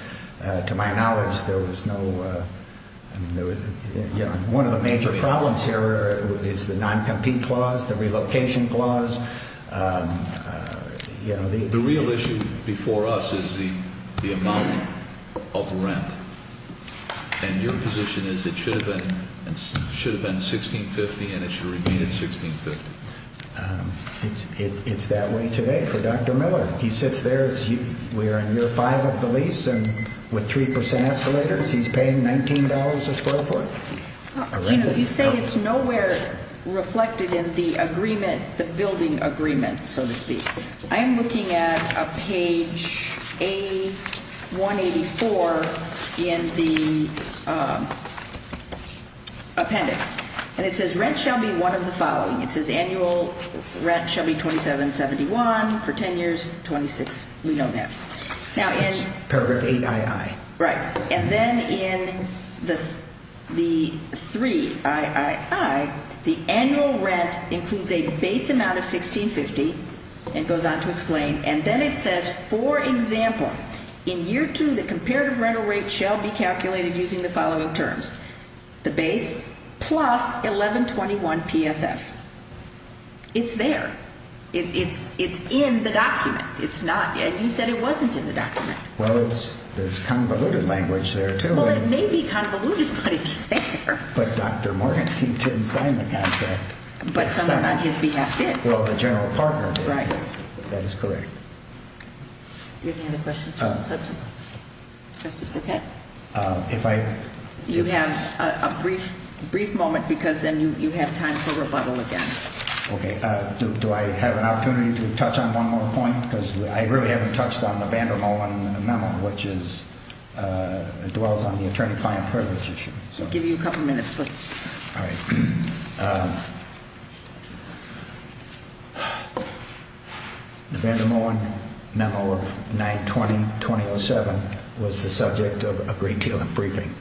to my knowledge, there was no ‑‑ One of the major problems here is the noncompete clause, the relocation clause. The real issue before us is the amount of rent. And your position is it should have been $1,650 and it should have been $1,650. It's that way today. Dr. Miller, he sits there, we're on your file of the lease, and with three percent escalators, he's paying $19 a square foot. You say it's nowhere reflected in the agreement, the building agreement, so to speak. I'm looking at page A184 in the appendix. And it says rent shall be one of the following. It says annual rent shall be $2,771 for 10 years, $2,600. We don't know. Paragraph 8II. Right. And then in the III, the annual rent includes a base amount of $1,650. It goes on to explain. And then it says, for example, in year two, the comparative rental rate shall be calculated using the following terms. The base plus $1,121 PSA. It's there. It's in the document. It's not, as you said, it wasn't in the document. Well, there's convoluted language there, too. Well, it may be convoluted, but it's there. But Dr. Morgan, he didn't claim the contract. But someone on his behalf did. Well, the general partner did. Right. That is correct. Do you have any other questions? No. You have a brief moment, because then you have time for rebuttal again. Okay. Do I have an opportunity to touch on one more point? Because I really haven't touched on the Vander Molen memo, which dwells on the attorney-client privilege issue. We'll give you a couple minutes, please. All right. The Vander Molen memo of 9-20-2007 was the subject of a Green-Taylor briefing.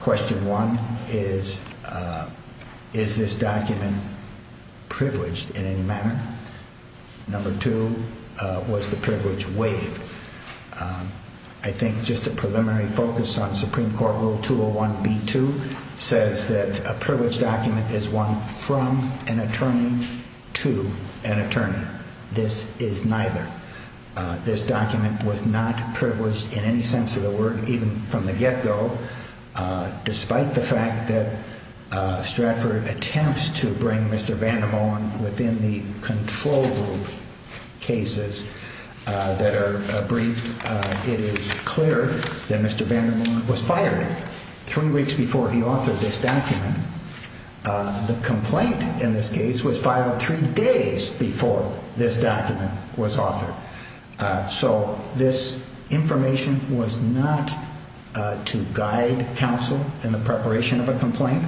Question one is, is this document privileged in any manner? Number two, was the privilege weighted? I think just a preliminary focus on Supreme Court Rule 201-B-2 says that a privileged document is one from an attorney to an attorney. This is neither. This document was not privileged in any sense of the word, even from the get-go, despite the fact that Stratford attempts to bring Mr. Vander Molen within the control group cases that are briefed. It is clear that Mr. Vander Molen was fired three weeks before he authored this document. The complaint, in this case, was filed three days before this document was authored. So this information was not to guide counsel in the preparation of a complaint.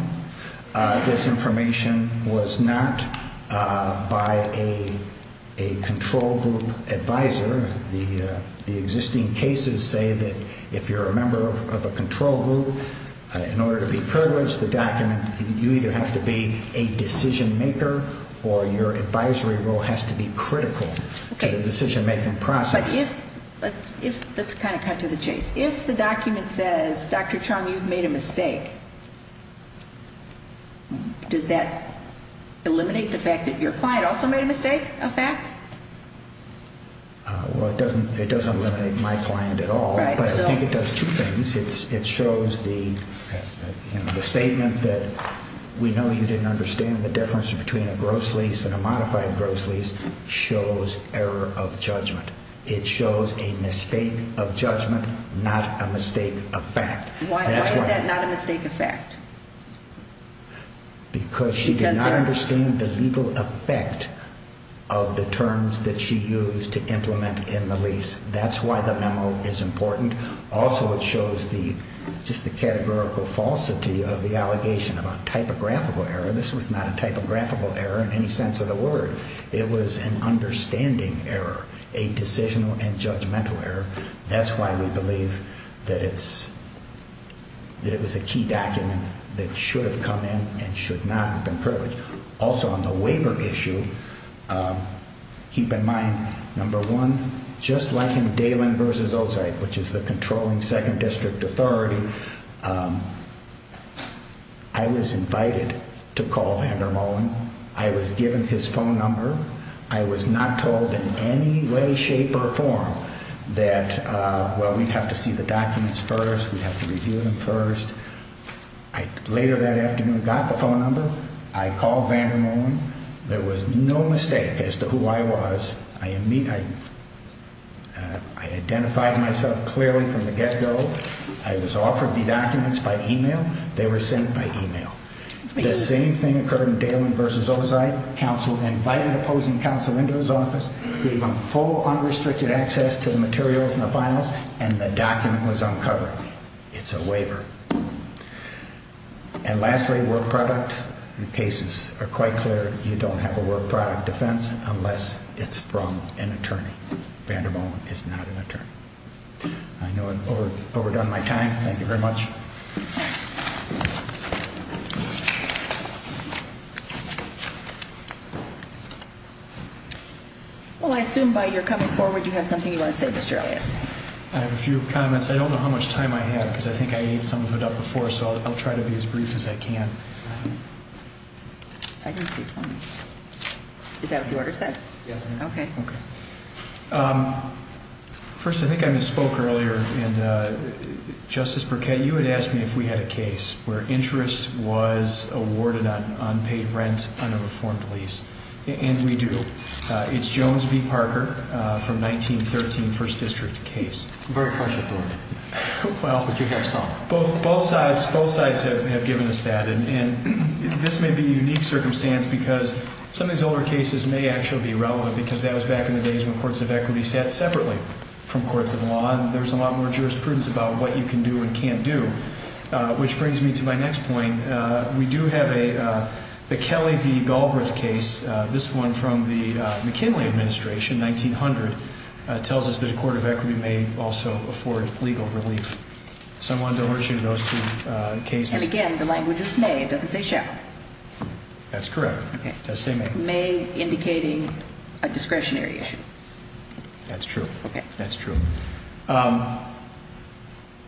This information was not by a control group advisor. The existing cases say that if you're a member of a control group, in order to be privileged, the document, you either have to be a decision-maker or your advisory role has to be critical to the decision-making process. Let's kind of cut to the chase. If the document says, Dr. Truong, you've made a mistake, does that eliminate the fact that you're fired? Well, it doesn't eliminate my point at all, but I think it does two things. It shows the statement that we know you didn't understand the difference between a gross lease and a modified gross lease shows error of judgment. It shows a mistake of judgment, not a mistake of fact. Why is that not a mistake of fact? Because she did not understand the legal effect of the terms that she used to implement in the lease. That's why the memo is important. Also, it shows just the categorical falsity of the allegation of a typographical error. This was not a typographical error in any sense of the word. It was an understanding error, a decisional and judgmental error. That's why we believe that it was a key document that should have come in and should not have been printed. Also, on the waiver issue, keep in mind, number one, just like in Dalen v. Ozike, which is the controlling second district authority, I was invited to call Hendermon. I was given his phone number. I was not told in any way, shape, or form that, well, we have to see the documents first, we have to review them first. Later that afternoon, I got the phone number. I called Hendermon. There was no mistake as to who I was. I identified myself clearly from the get-go. I was offered the documents by e-mail. They were sent by e-mail. The same thing occurred in Dalen v. Ozike. Counsel invited my opposing counsel into his office, gave him full unrestricted access to the materials and the files, and the document was uncovered. It's a waiver. And lastly, word product cases are quite clear. You don't have a word product defense unless it's from an attorney. Vanderbilt is not an attorney. I know I've overdone my time. Thank you very much. Well, I assume by your coming forward you have something you want to say, Mr. Elliott. I have a few comments. I don't know how much time I have because I think I need some of it up before, so I'll try to be as brief as I can. Is that the order set? Yes. Okay. First, I think I misspoke earlier in Justice Burkett. You had asked me if we had a case where interest was awarded on unpaid rent on a reformed lease, and we do. It's Jones v. Parker from 1913 First District case. Where was it from? Well, both sides have given us that, and this may be a unique circumstance because some of these older cases may actually be relevant because that was back in the days when courts of equity sat separately from courts of law, and there was a lot more jurisprudence about what you can do and can't do, which brings me to my next point. We do have a Kelly v. Galbraith case. This one from the McKinley administration, 1900, tells us that a court of equity may also afford legal relief. Someone's over to you to go see the case. And, again, the language is may. It doesn't say shall. That's correct. Okay. May indicating a discretionary issue. That's true. Okay. That's true.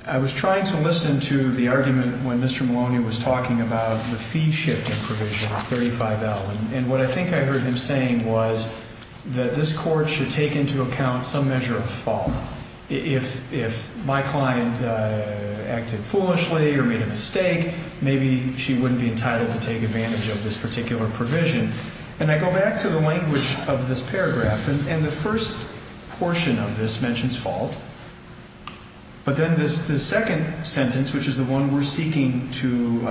I was trying to listen to the argument when Mr. Maloney was talking about the fee shift provision, $35,000, and what I think I heard him saying was that this court should take into account some measure of fault. If my client acted foolishly or made a mistake, maybe she wouldn't be entitled to take advantage of this particular provision. And I go back to the language of this paragraph, and the first portion of this mentions fault, but then the second sentence, which is the one we're seeking to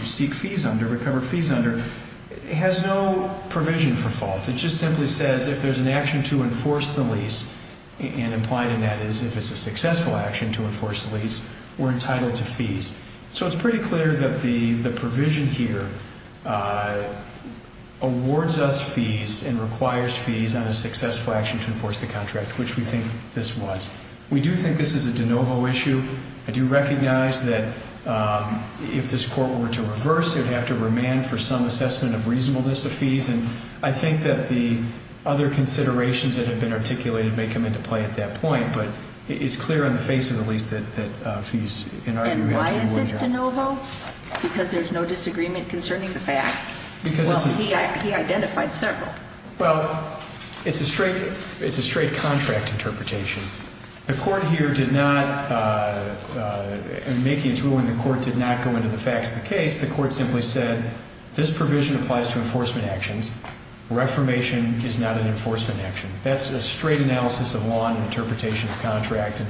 seek fees under, recover fees under, has no provision for fault. It just simply says if there's an action to enforce the lease, and implied in that is if it's a successful action to enforce the lease, we're entitled to fees. So it's pretty clear that the provision here awards us fees and requires fees on a successful action to enforce the contract, which we think this was. We do think this is a de novo issue. I do recognize that if this court were to reverse it, we have to remand for some assessment of reasonableness of fees, and I think that the other considerations that have been articulated may come into play at that point, but it's clear in the face of the lease that fees in our view have to be removed. And why is this de novo? Because there's no disagreement concerning the facts? Well, he identified several. Well, it's a straight contract interpretation. The court here did not, in making its ruling, the court did not go into the facts of the case. The court simply said this provision applies to enforcement actions. Reformation is not an enforcement action. That's a straight analysis of law and interpretation of the contract, and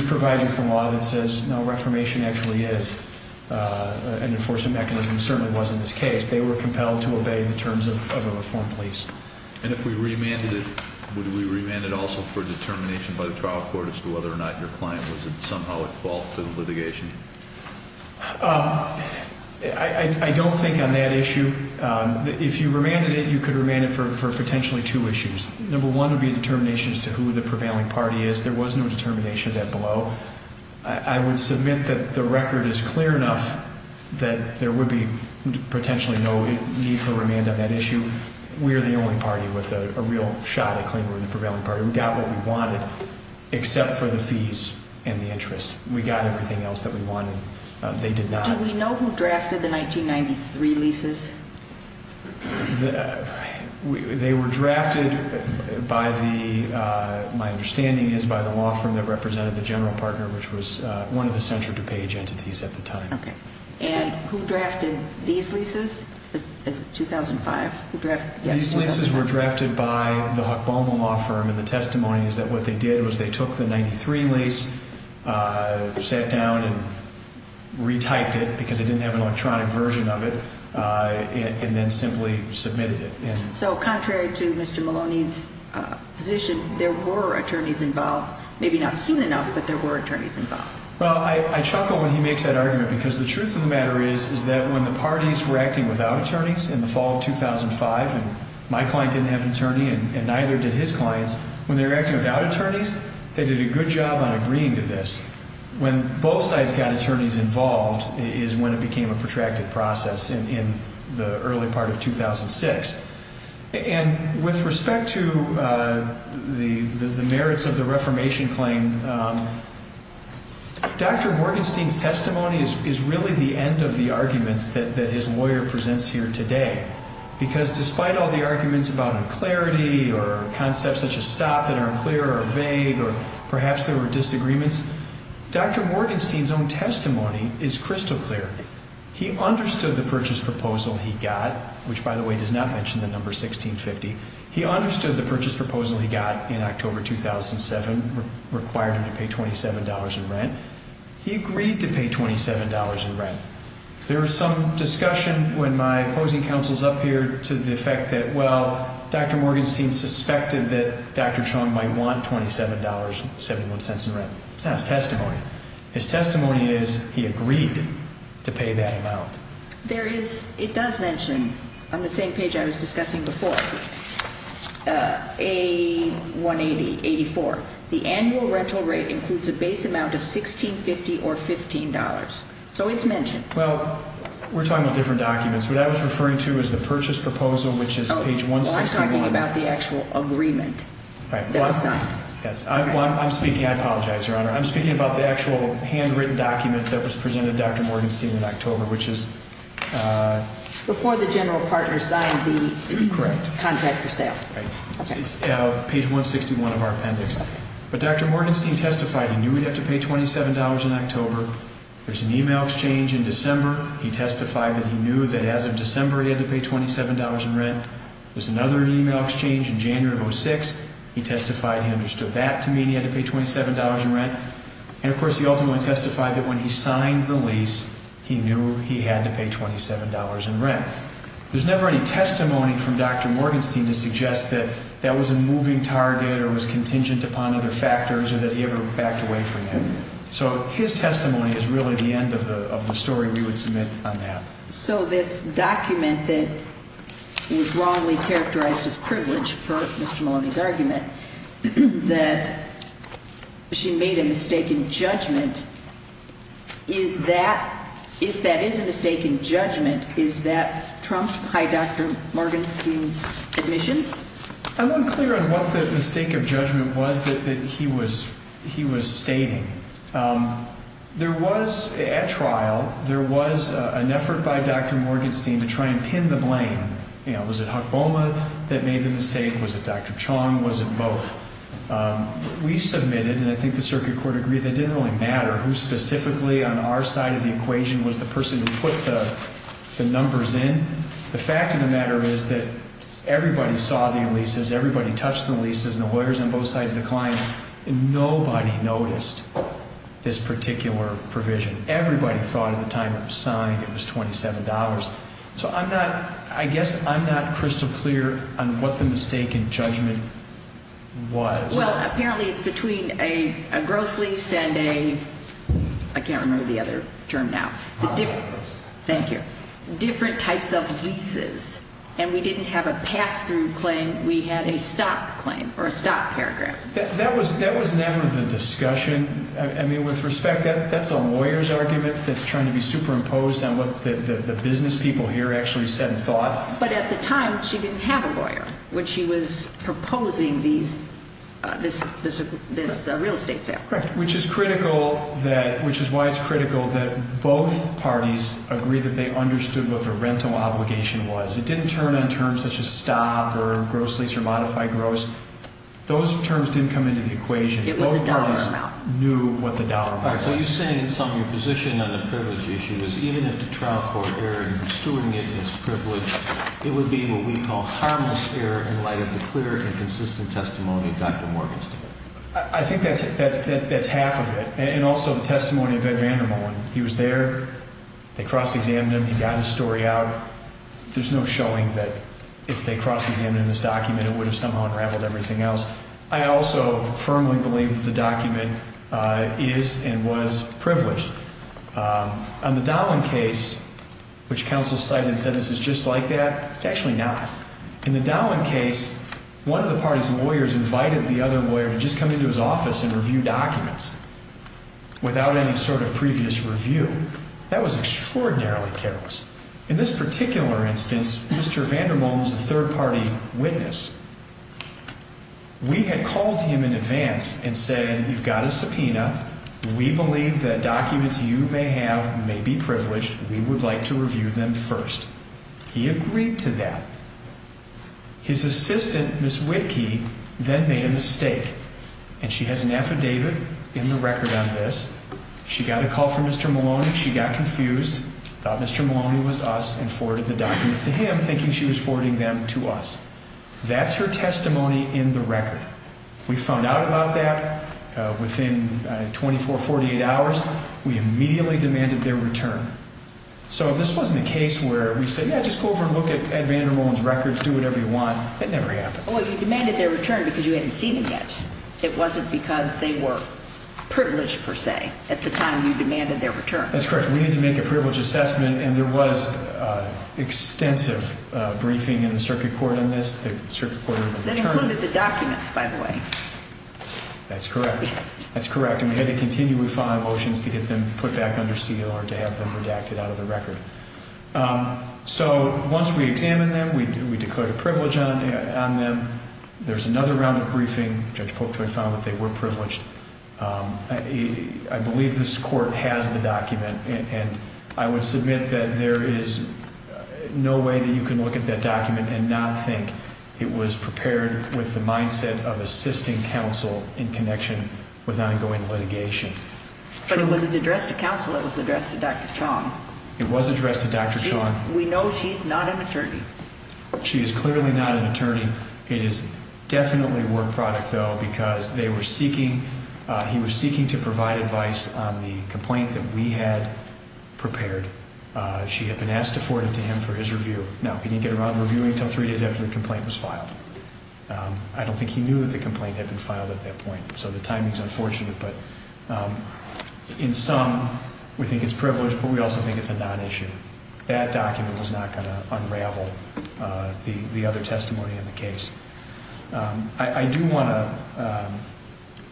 we provide you with a law that says no, reformation actually is an enforcement mechanism. It certainly wasn't this case. They were compelled to obey the terms of a reformed lease. And if we remanded it, would we remand it also for determination by the trial court as to whether or not your client was somehow at fault for the litigation? I don't think on that issue. If you remanded it, you could remand it for potentially two issues. Number one would be determination as to who the prevailing party is. There was no determination of that below. I would submit that the record is clear enough that there would be potentially no need for remand on that issue. We're the only party with a real shot at claiming we're the prevailing party. We got what we wanted except for the fees and the interest. We got everything else that we wanted. They did not. Do we know who drafted the 1993 leases? They were drafted by the, my understanding is, by the law firm that represented the general partner, which was one of the central to pay agents at the time. Okay. And who drafted these leases in 2005? These leases were drafted by the Hufoma law firm, and the testimony is that what they did was they took the 93 lease, sat down and retyped it because they didn't have an electronic version of it, and then simply submitted it. So, contrary to Mr. Maloney's position, there were attorneys involved, maybe not soon enough, but there were attorneys involved. Well, I chuckle when he makes that argument because the truth of the matter is that when the parties were acting without attorneys in the fall of 2005, and my client didn't have an attorney and neither did his client, when they were acting without attorneys, they did a good job on agreeing to this. When both sides got attorneys involved is when it became a protracted process in the early part of 2006. And with respect to the merits of the reformation claim, Dr. Gordonstein's testimony is really the end of the argument that his lawyer presents here today because despite all the arguments about unclarity or concepts such as stop that are unclear or vague or perhaps there were disagreements, Dr. Morgenstein's own testimony is crystal clear. He understood the purchase proposal he got, which by the way does not mention the number 1650. He understood the purchase proposal he got in October 2007 required him to pay $27 in rent. He agreed to pay $27 in rent. There is some discussion when my opposing counsel is up here to the effect that, well, Dr. Morgenstein suspected that Dr. Schoen might want $27.71 in rent. That's testimony. His testimony is he agreed to pay that amount. There is, it does mention on the same page I was discussing before, A180-84. The annual rental rate includes a base amount of $1650 or $15. So it's mentioned. Well, we're talking about different documents. What I was referring to is the purchase proposal, which is page 161. Oh, I'm talking about the actual agreement that was done. I'm speaking, I apologize, Your Honor. I'm speaking about the actual handwritten document that was presented to Dr. Morgenstein in October, which is Before the general partner signed the contract for sale. Correct. Page 161 of our appendix. But Dr. Morgenstein testified he knew he'd have to pay $27 in October. There's an email exchange in December. He testified that he knew that as of December he had to pay $27 in rent. There's another email exchange in January of 2006. He testified he understood that to mean he had to pay $27 in rent. And, of course, he also testified that when he signed the lease, he knew he had to pay $27 in rent. There's never any testimony from Dr. Morgenstein to suggest that that was a moving target or was contingent upon other factors or that he ever backed away from him. So his testimony is really the end of the story we would submit on that. So this document that is wrongly characterized as privilege, per Mr. Morgenstein's argument, that she made a mistake in judgment, if that is a mistake in judgment, is that trumped by Dr. Morgenstein's admission? I'm unclear on what the mistake of judgment was that he was stating. There was, at trial, there was an effort by Dr. Morgenstein to try and pin the blame. You know, was it Huck Boma that made the mistake? Was it Dr. Chong? Was it both? We submitted, and I think the circuit court agreed, it didn't really matter who specifically on our side of the equation was the person who put the numbers in. The fact of the matter is that everybody saw the leases, everybody touched the leases, and the lawyers on both sides declined. Nobody noticed this particular provision. Everybody thought at the time it was signed it was $27. So I'm not, I guess I'm not crystal clear on what the mistake in judgment was. Well, apparently it's between a gross lease and a, I can't remember the other term now. Thank you. Different types of leases, and we didn't have a pass-through claim, we had a stop claim, or a stop paragraph. That was never the discussion. I mean, with respect, that's a lawyer's argument that's trying to be superimposed on what the business people here actually said and thought. But at the time she didn't have a lawyer when she was proposing the real estate sale. Right, which is critical that, which is why it's critical that both parties agree that they understood what the rental obligation was. It didn't turn on terms such as stop or gross lease or modified gross. Those terms didn't come into the equation. Nobody knew what the dollar was. All right, so you're saying it's on your position on the privilege issue. If he didn't have to travel over there and pursuing it in its privilege, it would be in what we call harmless error in light of the clear and consistent testimony of Dr. Morgan. I think that's half of it. And also the testimony of Ed Vandenborn. He was there. They cross-examined him. He got his story out. There's no showing that if they cross-examined him in this document, it would have somehow interacted with everything else. I also firmly believe that the document is and was privileged. On the Dolan case, which counsel cited and said it was just like that, it's actually not. In the Dolan case, one of the party's lawyers invited the other lawyer to just come into his office and review documents without any sort of previous review. That was extraordinarily careless. In this particular instance, Mr. Vandenborn is a third-party witness. We had called him in advance and said, you've got a subpoena. We believe that documents you may have may be privileged. We would like to review them first. He agreed to that. His assistant, Ms. Whitkey, then made a mistake. And she has an affidavit in the record on this. She got a call from Mr. Maloney. She got confused, thought Mr. Maloney was us, and forwarded the documents to him, thinking she was forwarding them to us. That's her testimony in the record. We found out about that within 24, 48 hours. We immediately demanded their return. So this wasn't a case where we said, yeah, just go over and look at Vandenborn's records, do whatever you want. It never happened. Oh, you demanded their return because you hadn't seen them yet. It wasn't because they were privileged, per se, at the time you demanded their return. That's correct. We needed to make a privilege assessment, and there was extensive briefing in the circuit court on this. They included the documents, by the way. That's correct. That's correct. And we had to continue with final motions to get them put back under speed in order to have them redacted out of the record. So once we examined them, we declared a privilege on them. There's another round of briefing, which I quote, for example, that they were privileged. I believe this court has the document, and I would submit that there is no way that you can look at that document and not think it was prepared with the mindset of assisting counsel in connection with ongoing litigation. But it was addressed to counsel. It was addressed to Dr. Chong. It was addressed to Dr. Chong. We know she's not an attorney. She is clearly not an attorney. It is definitely a work product, though, because they were seeking to provide advice on the complaint that we had prepared. She had been asked to forward it to him for his review. Now, he didn't get around to reviewing it until three days after the complaint was filed. I don't think he knew of the complaint that had been filed at that point, so the timing is unfortunate. But in sum, we think it's privileged, but we also think it's a non-issue. That document was not going to unravel the other testimony in the case. I do want to,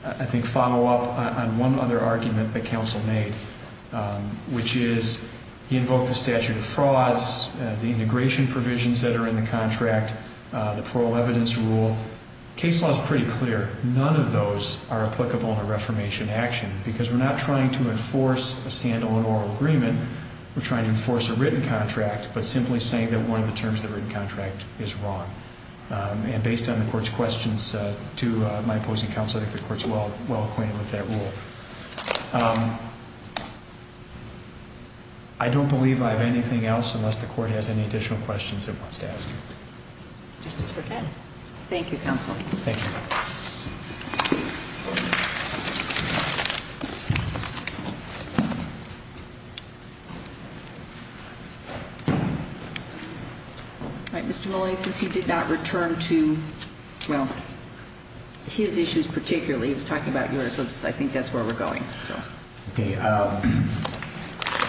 I think, follow up on one other argument that counsel made, which is he invoked the statute of frauds, the integration provisions that are in the contract, the plural evidence rule. The case law is pretty clear. None of those are applicable in a reformation action because we're not trying to enforce a stand-alone oral agreement. We're trying to enforce a written contract, but simply saying that one of the terms of the written contract is wrong. And based on the court's questions to my opposing counsel, I think the court's well acquainted with that rule. I don't believe I have anything else unless the court has any additional questions it wants to ask. Okay. Thank you, counsel. Thank you. All right, Mr. Mullen, since you did not return to, well, his issues particularly, let's talk about yours because I think that's where we're going. Okay.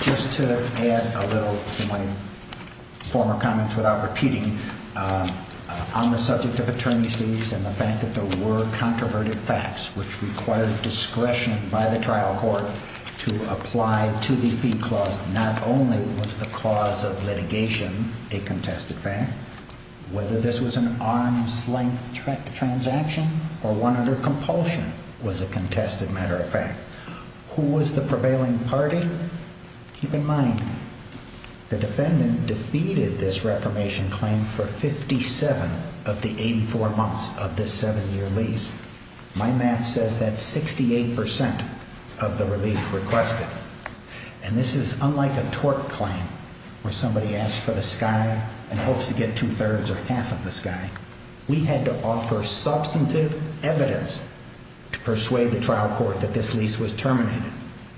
Just to add a little to my former comments without repeating, on the subject of attorney's fees and the fact that there were controverted facts, which required discretion by the trial court to apply to the fee clause, not only was the cause of litigation a contested fact, whether this was an arm's-length transaction or one under compulsion was a contested matter of fact. Who was the prevailing party? Keep in mind, the defendant defeated this reformation claim for 57 of the 84 months of this seven-year lease. My math says that's 68% of the relief requested. And this is unlike a tort claim where somebody asks for the sky and hopes to get two-thirds or half of the sky. We had to offer substantive evidence to persuade the trial court that this lease was terminated,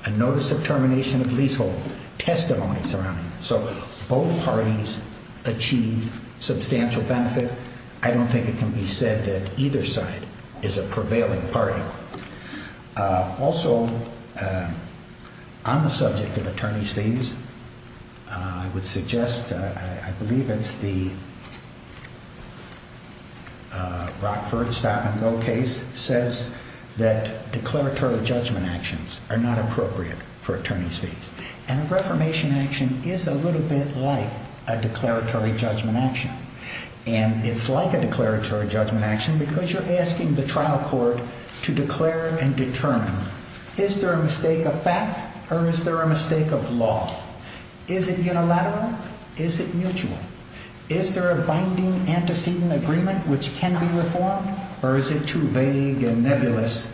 a notice of termination of leasehold, testimony surrounding it. So both parties achieved substantial benefit. I don't think it can be said that either side is a prevailing party. Also, on the subject of attorney's fees, I would suggest, I believe it's the Rockford-Statenville case, says that declaratory judgment actions are not appropriate for attorney's fees. And a reformation action is a little bit like a declaratory judgment action. And it's like a declaratory judgment action because you're asking the trial court to declare and determine. Is there a mistake of fact or is there a mistake of law? Is it unilateral? Is it mutual? Is there a binding antecedent agreement which can be reformed? Or is it too vague and nebulous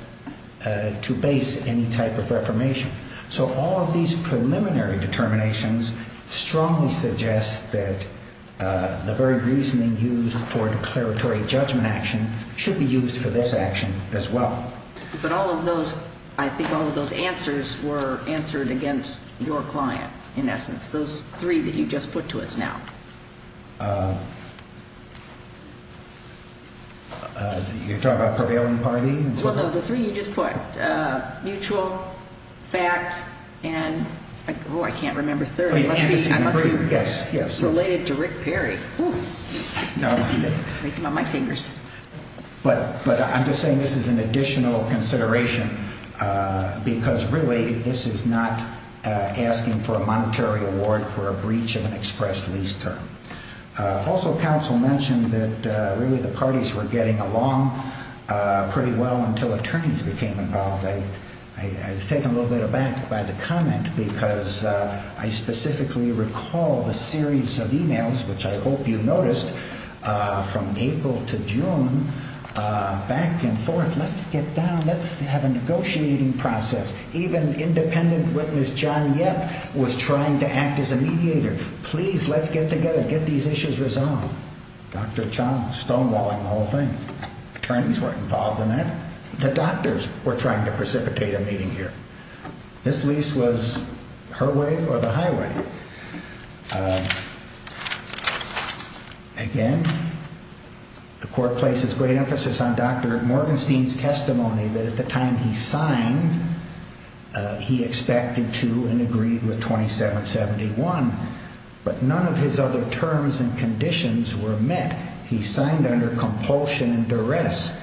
to base any type of reformation? So all of these preliminary determinations strongly suggest that the very reasoning used for declaratory judgment action should be used for this action as well. But all of those, I think all of those answers were answered against your client in essence, those three that you just put to us now. You're talking about prevailing party? Well, those are the three you just put. Mutual, fact, and, oh, I can't remember the third one. Yes, yes. Related to Rick Perry. I'm going to break him on my fingers. But I'm just saying this is an additional consideration because, really, this is not asking for a monetary award for a breach in an express lease term. Also, counsel mentioned that, really, the parties were getting along pretty well until attorneys became involved. I was taken a little bit aback by the comment because I specifically recall the series of e-mails, which I hope you noticed, from April to June, back and forth, let's get down, let's have a negotiating process. Even independent witness John Yip was trying to act as a mediator. Please, let's get together, get these issues resolved. Dr. John stonewalling the whole thing. Attorneys weren't involved in that. The doctors were trying to precipitate a meeting here. This lease was her way or the highway. Again, the court places great emphasis on Dr. Norgenstein's testimony that at the time he signed, he expected to and agreed with 2771. But none of his other terms and conditions were met. He signed under compulsion and duress.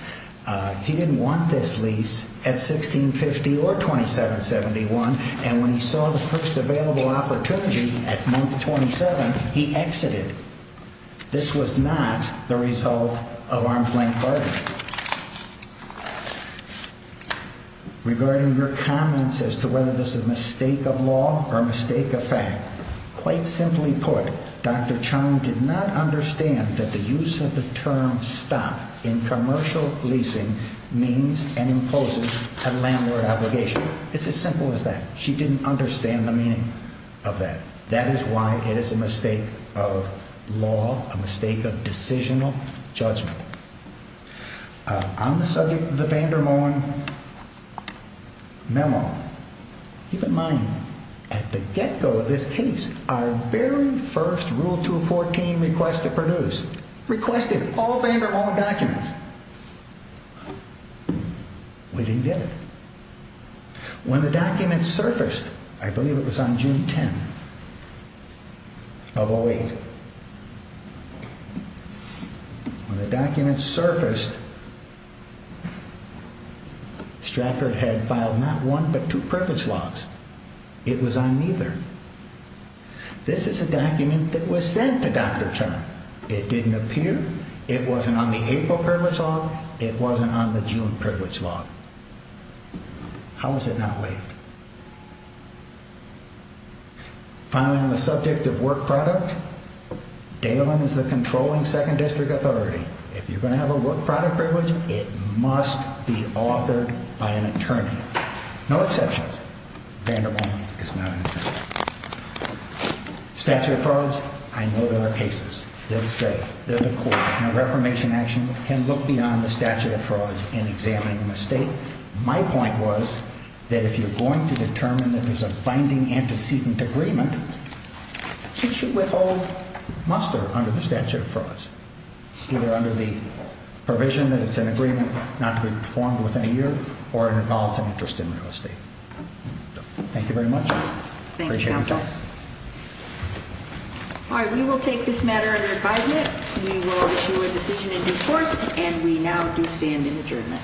He didn't want this lease at 1650 or 2771. And when he saw this first available opportunity at month 27, he exited. This was not the result of arm's length clarity. Regarding your comments as to whether this was a mistake of law or a mistake of fact, quite simply put, Dr. Charn did not understand that the use of the term stop in commercial leasing means and imposes a landlord obligation. It's as simple as that. She didn't understand the meaning of that. That is why it is a mistake of law, a mistake of decisional judgment. On the subject of the Vanderhorn memo, keep in mind, at the get-go of this case, our very first Rule 214 request to produce requested all Vanderhorn documents. We didn't get it. When the documents surfaced, I believe it was on June 10 of 08, when the documents surfaced, Stratford had filed not one but two privilege laws. It was on neither. This is a document that was sent to Dr. Charn. It didn't appear. It wasn't on the April privilege law. It wasn't on the June privilege law. How is it not late? Finally, on the subject of work product, Dayland is the controlling second district authority. If you're going to have a work product privilege, it must be offered by an attorney. No exceptions. Vanderhorn is not an exception. Statute of frauds, I know there are cases. There's a court. There's a court. And a reformation action can look beyond the statute of frauds and examine the mistake. My point was that if you're going to determine that there's a binding antecedent agreement, you should withhold muster under the statute of frauds, either under the provision that it's an agreement not to be reformed within a year or it involves an interest in real estate. Thank you very much. Appreciate it. All right, we will take this matter under guidance. We will issue a decision in due course, and we now do stand adjourned.